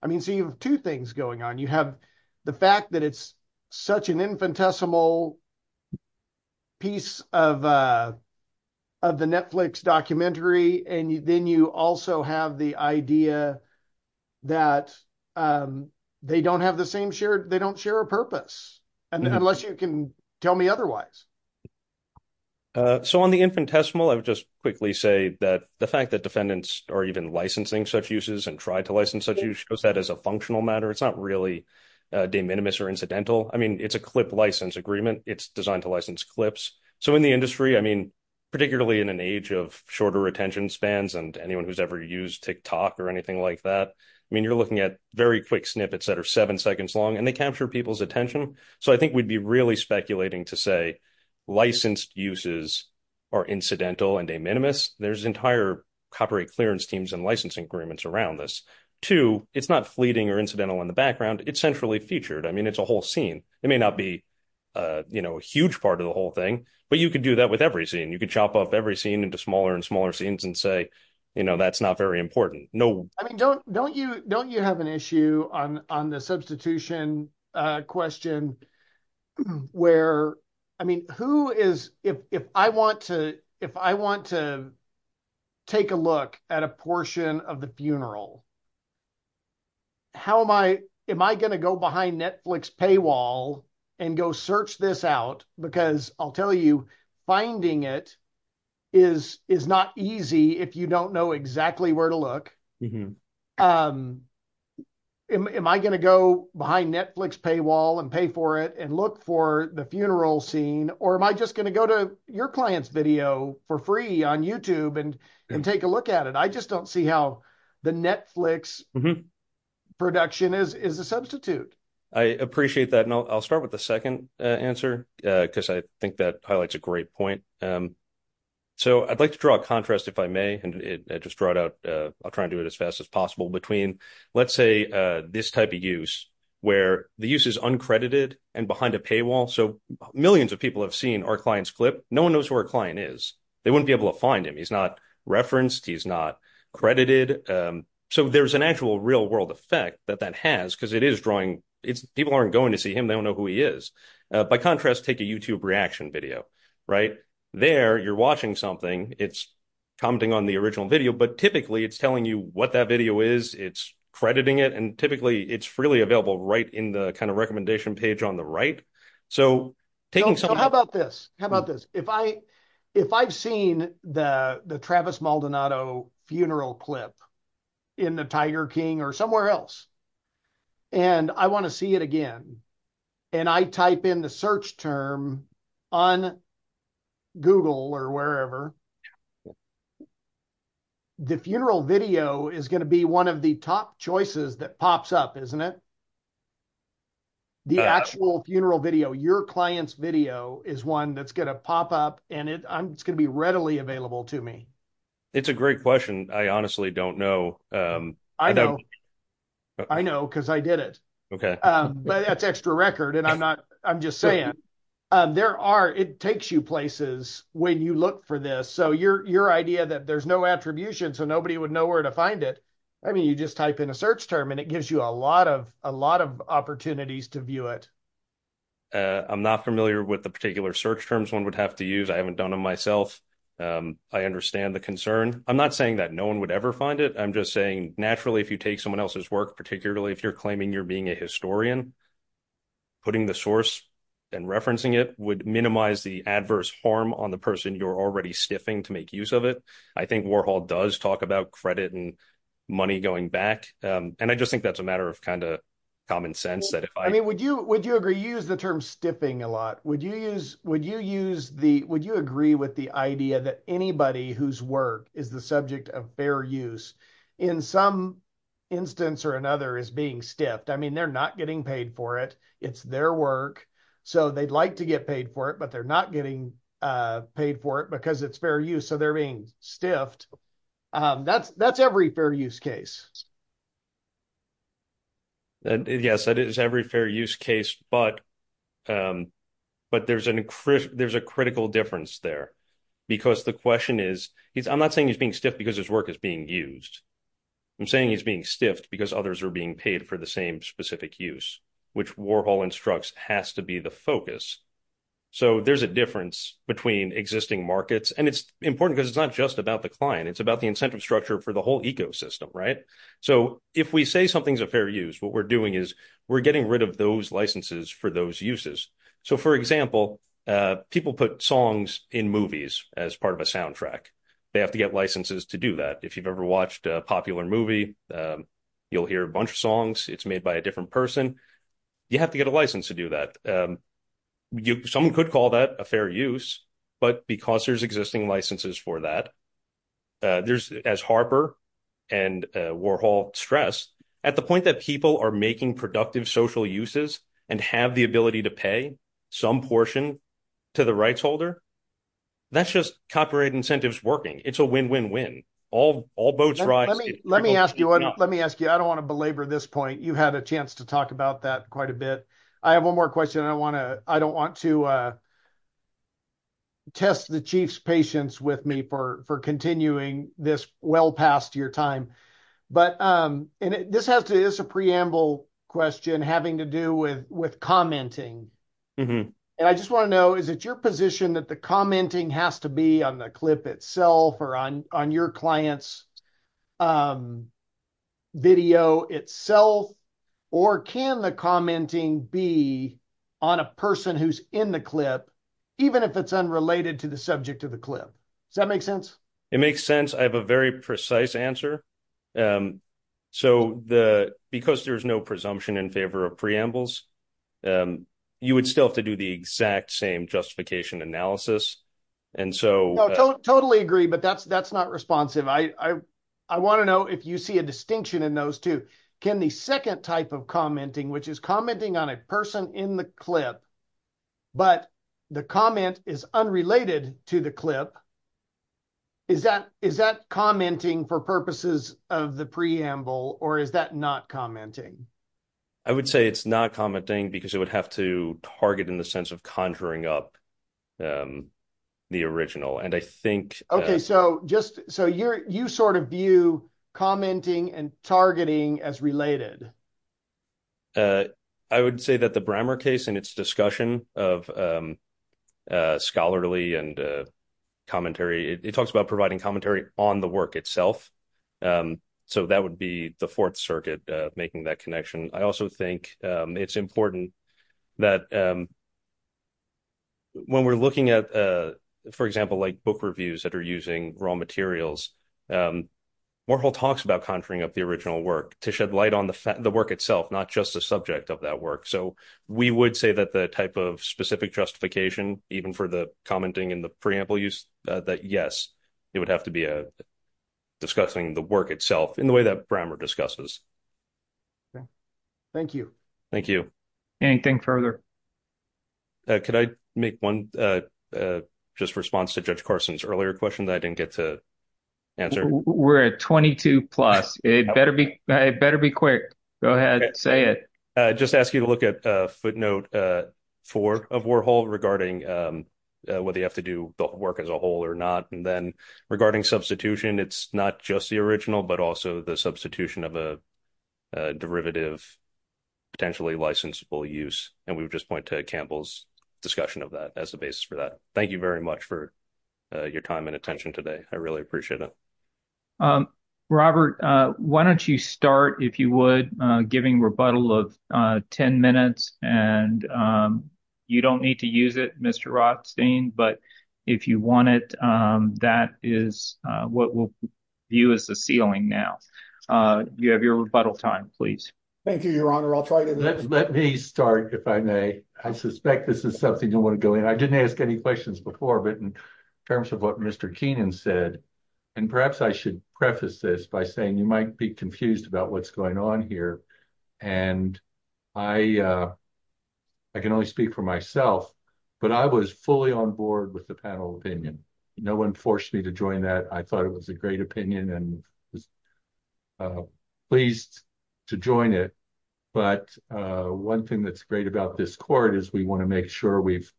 I mean, so you have two things going on. You have the fact that it's such an infinitesimal piece of the Netflix documentary. And then you also have the idea that they don't have the same shared, they don't share a purpose. Unless you can tell me otherwise. So on the infinitesimal, I would just quickly say that the fact that defendants are even licensing such uses and try to license such use that as a functional matter, it's not really de minimis or incidental. I mean, it's a clip license agreement. It's designed to license clips. So in the industry, I mean, particularly in an age of shorter retention spans and anyone who's ever used TikTok or anything like that, I mean, you're looking at very quick snippets that are seven seconds long and they capture people's attention. So I think we'd be really speculating to say licensed uses are incidental and de minimis. There's entire copyright clearance teams and licensing agreements around this. Two, it's not fleeting or incidental in the background. It's centrally featured. I mean, it's a whole scene. It may not be a huge part of the whole thing, but you could do that with every scene. You could chop up every scene into smaller and smaller scenes and say, that's not very important. No. I mean, don't you have an issue on the substitution question where, I mean, who is, if I want to take a look at a portion of the funeral, how am I, am I going to go behind Netflix paywall and go search this out because I'll tell you finding it is not easy if you don't know exactly where to look. Am I going to go behind Netflix paywall and pay for it and look for the funeral scene? Or am I just going to go to your client's video for free on YouTube and take a look at it? I just don't see how the Netflix production is a substitute. I appreciate that. And I'll start with the second answer because I think that highlights a great point. So, I'd like to draw a contrast, if I may, and it just brought out, I'll try and do it as fast as possible between, let's say, this type of use where the use is uncredited and behind a paywall. So, millions of people have seen our client's clip. No one knows who our client is. They wouldn't be able to find him. He's not referenced. He's not credited. So, there's an actual real-world effect that that has because people aren't going to see him. They don't know who he is. By contrast, take a YouTube reaction video, right? There, you're watching something. It's commenting on the original video. But typically, it's telling you what that video is. It's crediting it. And typically, it's freely available right in the kind of recommendation page on the right. So, taking some... So, how about this? How about this? If I've seen the Travis Maldonado funeral clip in the Tiger King or somewhere else, and I want to see it again, and I type in the search term on Google or wherever, the funeral video is going to be one of the top choices that pops up, isn't it? The actual funeral video, your client's video is one that's going to pop up, and it's going to be readily available to me. It's a great question. I honestly don't know. I know. I know, because I did it. Okay. But that's extra record, and I'm not... I'm just saying. There are... It takes you places when you look for this. So, your idea that there's no attribution, so nobody would know where to find it, I mean, you just type in a search term, and it gives you a lot of opportunities to view it. I'm not familiar with the particular search terms one would have to use. I haven't done them myself. I understand the concern. I'm not saying that no one would ever find it. I'm just saying, naturally, if you take someone else's work, particularly if you're claiming you're being a historian, putting the source and referencing it would minimize the adverse harm on the person you're already stiffing to make use of it. I think Warhol does talk about credit and money going back, and I just think that's a matter of kind of common sense that if I... I mean, would you agree? You use the term stiffing a lot. Would you use the... Would you agree with the idea that anybody whose work is the subject of fair use in some instance or another is being stiffed? I mean, they're not getting paid for it. It's their work, so they'd like to get paid for it, but they're not getting paid for it because it's fair use, so they're being stiffed. That's every fair use case. Yes, that is every fair use case, but there's a critical difference there because the question is... I'm not saying he's being stiffed because his work is being used. I'm saying he's being stiffed because others are being paid for the same specific use, which Warhol instructs has to be the focus. So, there's a difference between existing markets, and it's important because it's not just about the client. It's about the incentive structure for the whole ecosystem, right? So, if we say something's a fair use, what we're doing is we're getting rid of those licenses for those uses. So, for example, people put songs in movies as part of a soundtrack. They have to get licenses to do that. If you've ever watched a popular movie, you'll hear a bunch of songs. It's made by a different person. You have to get a license to do that. Someone could call that a harper, and Warhol stressed, at the point that people are making productive social uses and have the ability to pay some portion to the rights holder, that's just copyright incentives working. It's a win-win-win. All boats... Let me ask you. I don't want to belabor this point. You had a chance to talk about that quite a bit. I have one more question. I don't want to test the chief's patience with me for continuing this well past your time. This is a preamble question having to do with commenting. I just want to know, is it your position that the commenting has to be on the clip itself or on your client's video itself, or can the commenting be on a person who's in the clip even if it's unrelated to the subject of the clip? Does that make sense? It makes sense. I have a very precise answer. Because there's no presumption in favor of preambles, you would still have to do the exact same justification analysis. Totally agree, but that's not responsive. I want to know if you see a distinction in those two. Can the second type of commenting, which is commenting on a person in the clip, but the comment is unrelated to the clip, is that commenting for purposes of the preamble, or is that not commenting? I would say it's not commenting because it would have to target in the sense of conjuring up the original. You view commenting and targeting as related. I would say that the Brammer case and its discussion of scholarly and commentary, it talks about providing commentary on the work itself. That would be the Fourth Circuit making that connection. I also think it's important that when we're looking at, for example, book reviews that are using raw materials, Warhol talks about conjuring up the original work to shed light on the work itself, not just the subject of that work. We would say that the type of specific justification, even for the commenting in the preamble use, that yes, it would have to be discussing the work itself in the way that Brammer discusses. Thank you. Thank you. Anything further? Could I make one response to Judge Carson's earlier question that I didn't get to answer? We're at 22 plus. It better be quick. Go ahead. Say it. Just ask you to look at footnote 4 of Warhol regarding whether you have to do the work as a whole or not. Then regarding substitution, it's not just the original, but also the substitution of a derivative, potentially licensable use. We would just point to Campbell's discussion of that as a basis for thank you very much for your time and attention today. I really appreciate it. Robert, why don't you start, if you would, giving rebuttal of 10 minutes. You don't need to use it, Mr. Rothstein, but if you want it, that is what we'll view as the ceiling now. You have your rebuttal time, please. Thank you, Your Honor. Let me start, if I may. I suspect this is something you want to go in. I didn't ask any questions before, but in terms of what Mr. Keenan said, and perhaps I should preface this by saying you might be confused about what's going on here. I can only speak for myself, but I was fully on board with the panel opinion. No one forced me to join that. I thought it was a great opinion and I was pleased to join it. One thing that's great about this court is we want to make sure we've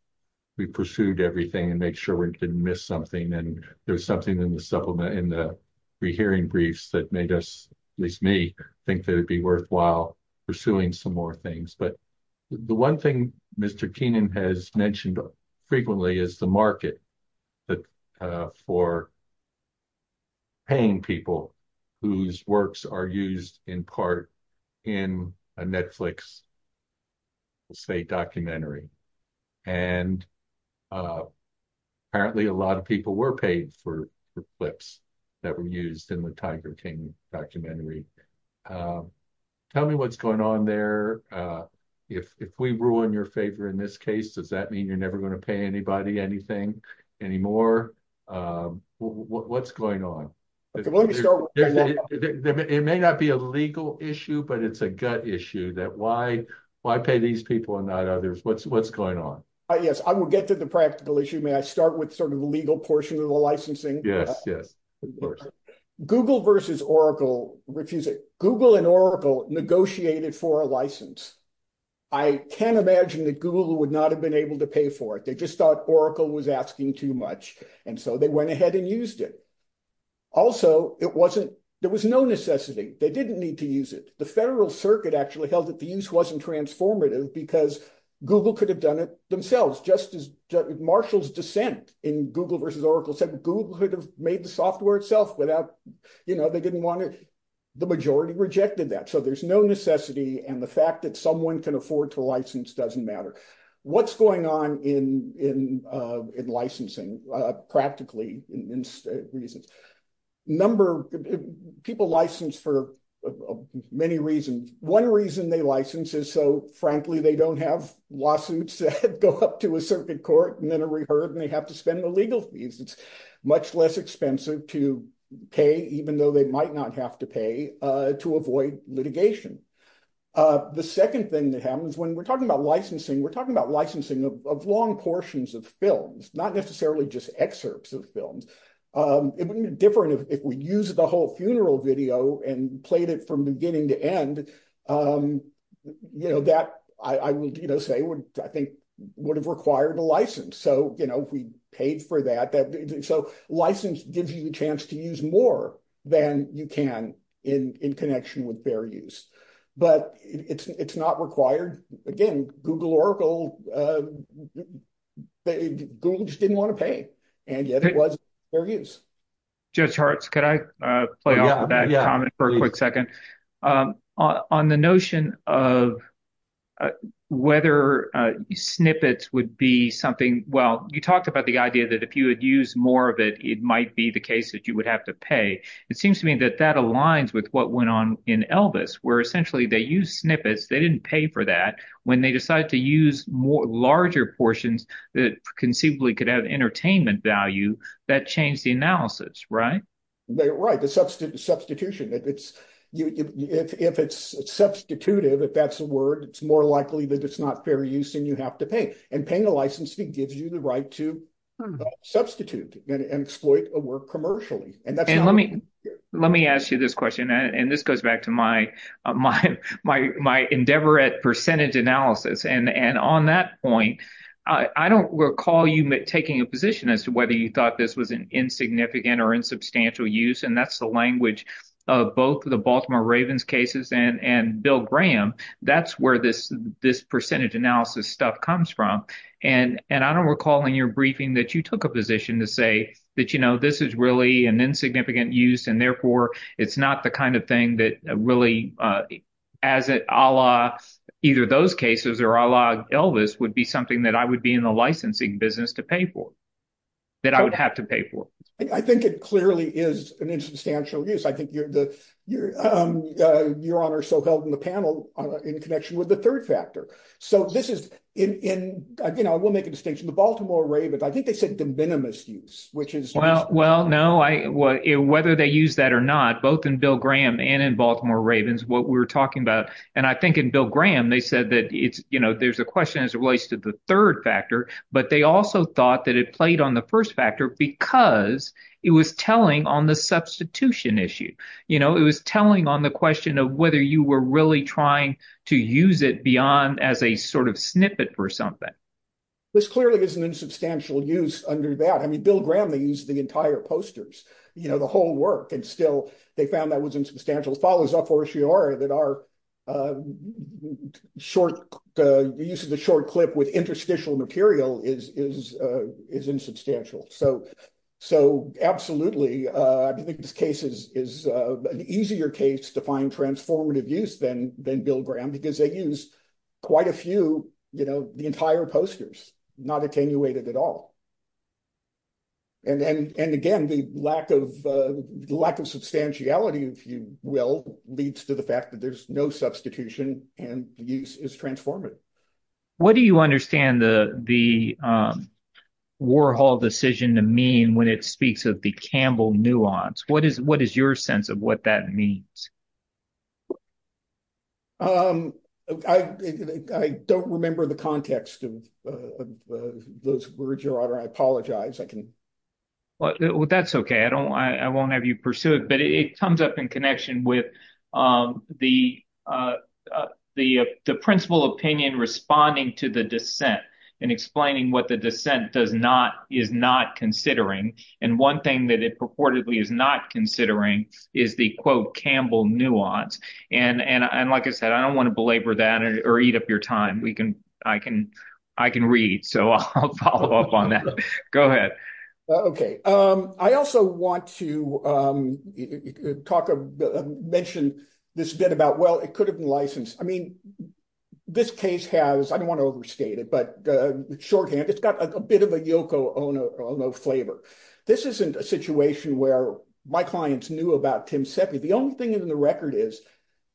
pursued everything and make sure we didn't miss something. There's something in the hearing briefs that made us, at least me, think that it'd be worthwhile pursuing some more things. The one thing Mr. Keenan has mentioned frequently is the market for paying people whose works are used in part in a Netflix documentary. Apparently, a lot of people were paid for the clips that were used in the Tiger King documentary. Tell me what's going on there. If we ruin your favor in this case, does that mean you're never going to pay anybody anything anymore? What's going on? It may not be a legal issue, but it's a gut issue that why pay these people and not others? What's going on? Yes, I will get to the practical issue. May I start with the legal portion of the licensing? Yes. Google and Oracle negotiated for a license. I can't imagine that Google would not have been able to pay for it. They just thought Oracle was asking too much, and so they went ahead and used it. Also, there was no necessity. They didn't need to use it. The federal circuit actually held that the use wasn't transformative because Google could have done it themselves, just as Marshall's dissent in Google versus Oracle said that Google could have made the software itself. They didn't want it. The majority rejected that, so there's no necessity, and the fact that someone can afford to license doesn't matter. What's going on in licensing, practically? People license for many reasons. One reason they license is so, frankly, they don't have lawsuits that go up to a circuit court and then are reheard, and they have to spend the legal fees. It's much less expensive to pay, even though they might not have to pay to avoid litigation. The second thing that happens when we're talking about licensing, we're talking about licensing of long portions of films, not necessarily just excerpts of films. It wouldn't be different if we used the whole funeral video and played it from beginning to end. That, I would say, I think, would have required a license. We paid for that. License gives you a chance to use more than you can in connection with fair use, but it's not required. Again, Google just didn't want to pay, and yet it was fair use. Jeff Shartz, can I play off of that comment for a quick second? On the notion of whether snippets would be something—well, you talked about the idea that if you had used more of it, it might be the case that you would have to pay. It seems to me that that aligns with what went on in Elvis, where essentially they used snippets. They didn't pay for that. When they decided to use larger portions that conceivably could have entertainment value, that changed the analysis, right? Right, the substitution. If it's substitutive, if that's a word, it's more likely that it's not fair use, and you have to pay. Paying a license gives you the right to substitute and exploit a work commercially. Let me ask you this question. This goes back to my endeavor at percentage analysis. On that point, I don't recall you taking a position as to whether you thought this was an insignificant or insubstantial use. That's the language of both the Baltimore Ravens cases and Bill Graham. That's where this percentage analysis stuff comes from. I don't recall in your briefing that you took a position to say that, you know, this is really an insignificant use, and therefore it's not the kind of thing that really, either those cases or Elvis, would be something that I would be in the licensing business to pay for, that I would have to pay for. I think it clearly is an insubstantial use. I think your honor still held the panel in connection with the third factor. I will make a distinction. The Baltimore Ravens, I think they said de minimis use. Well, no. Whether they used that or not, both in Bill Graham and in Baltimore Ravens, what we're talking about, and I think in Bill Graham, they said that there's a question as it relates to the third factor, but they also thought that it played on the first factor because it was telling on the substitution issue. You know, it was telling on the question of whether you were really trying to use it beyond as a sort of snippet for something. This clearly is an insubstantial use under that. I mean, Bill Graham, they used the entire posters, you know, the whole work, and still they found that was insubstantial. It follows up Horace that our use of the short clip with interstitial material is insubstantial. So, absolutely, I think this case is an easier case to find transformative use than Bill Graham because they used quite a few, you know, the entire posters, not attenuated at all. And, again, the lack of substantiality, if you will, leads to the fact that there's no substitution, and use is transformative. What do you understand the Warhol decision to mean when it speaks of the Campbell nuance? What is your sense of what that means? I don't remember the context of those words, Your Honor. I apologize. That's okay. I don't, I won't have you pursue it, but it comes up in connection with the principal opinion responding to the dissent and explaining what the dissent does not, is not considering. And one thing that it purportedly is not considering is the, quote, Campbell nuance. And, like I said, I don't want to belabor that or eat up your time. We can, I can, I can read. So, I'll follow up on that. Go ahead. Okay. I also want to talk, mention this again about, well, it could have been licensed. I mean, this case has, I don't want to overstate it, but shorthand, it's got a bit of a Yoko Ono flavor. This isn't a situation where my clients knew about Tim Seppi. The only thing in the record is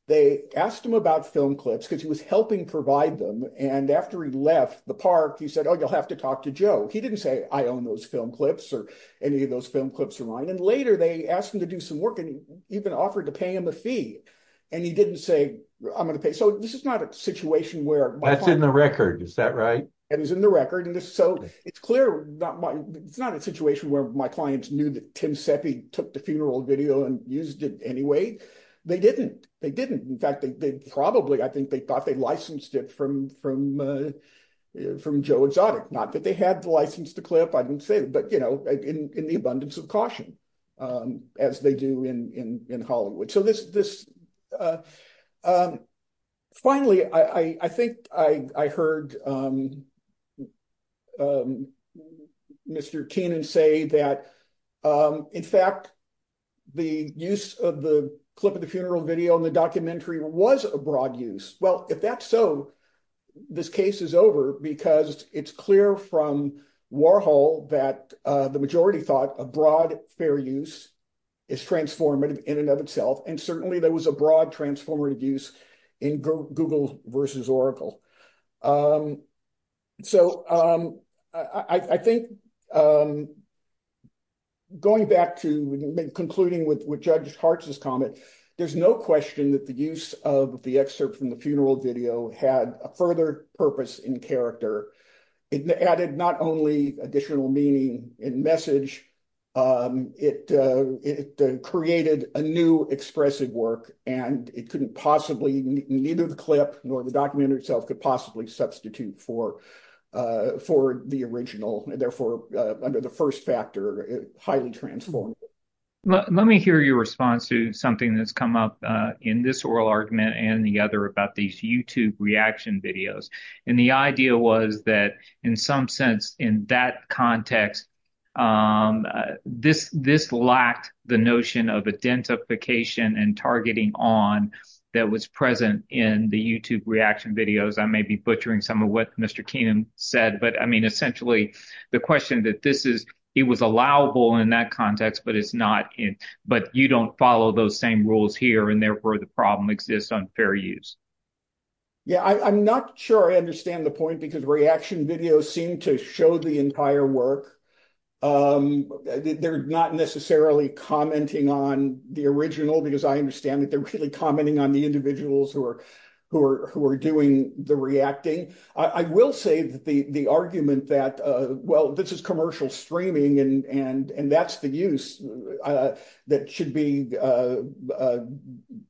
they asked him about film clips because he was helping provide them. And after he left the park, he said, oh, you'll have to talk to Joe. He didn't say, I own those film clips or any of those film clips are mine. And later they asked him to do some work and he even offered to pay him a fee. And he didn't say, I'm going to pay. So, this is not a situation where- That's in the record. Is that right? And it's in the record. So, it's clear, it's not a situation where my clients knew that Tim Seppi took the funeral video and used it anyway. They didn't. They didn't. In fact, they probably, I think they thought they licensed it from Joe Exotic. Not that they had the license to clip, but in the abundance of caution as they do in Hollywood. Finally, I think I heard Mr. Keenan say that, in fact, the use of the clip of the funeral video in the documentary was a broad use. Well, if that's so, this case is over because it's clear from Warhol that the majority thought a broad fair use is transformative in and of itself. And certainly there was a broad transformative use in Google versus Oracle. So, I think going back to concluding with Judge Hartz's comment, there's no question that the use of the excerpt from the funeral video had a further purpose and character. It added not only additional meaning and message, it created a new expressive work and it couldn't possibly, neither the clip nor the documentary itself could possibly substitute for the original. Therefore, under the first factor, highly transformative. Let me hear your response to something that's in this oral argument and the other about these YouTube reaction videos. And the idea was that in some sense, in that context, this lacked the notion of identification and targeting on that was present in the YouTube reaction videos. I may be butchering some of what Mr. Keenan said, but I mean, essentially the question that this is, it was allowable in that context, but you don't follow those same rules here and therefore the problem exists on fair use. Yeah, I'm not sure I understand the point because reaction videos seem to show the entire work. They're not necessarily commenting on the original because I understand that they're really commenting on the individuals who are doing the reacting. I will say that the argument that, well, this is commercial streaming and that's the use that should be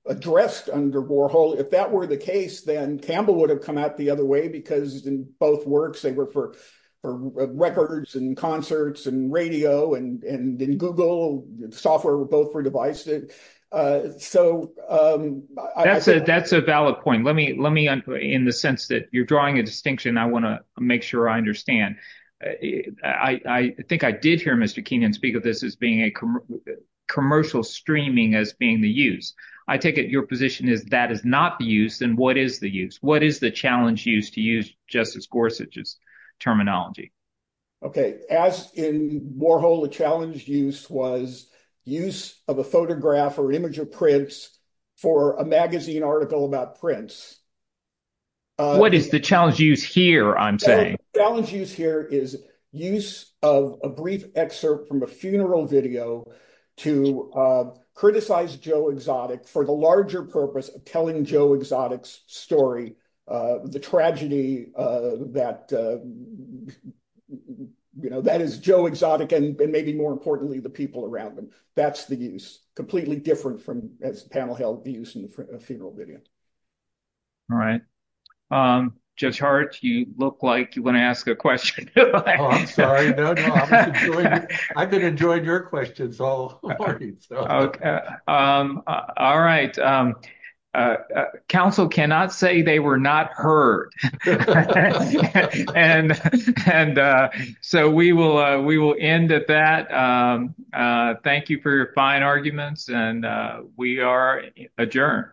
addressed under Warhol, if that were the case, then Campbell would have come out the other way because in both works, they were for records and concerts and radio and in Google, software were both for devices. That's a valid point. Let me, in the sense that you're drawing a distinction, I want to make sure I understand. I think I did hear Mr. Keenan speak of this as being a commercial streaming as being the use. I take it your position is that is not the use, then what is the use? What is the challenge used to use Justice Gorsuch's terminology? Okay. As in Warhol, the challenge use was use of a photograph or image of prints for a magazine article about prints. What is the challenge use here, I'm saying? Challenge use here is use of a brief excerpt from a funeral video to criticize Joe Exotic for the larger purpose of telling Joe Exotic's story, the tragedy that is Joe Exotic and maybe the people around him. That's the use, completely different from the panel held the use of funeral videos. All right. Judge Hart, you look like you want to ask a question. I've been enjoying your questions. All right. Council cannot say they were not heard. We will end at that. Thank you for your fine arguments. We are adjourned.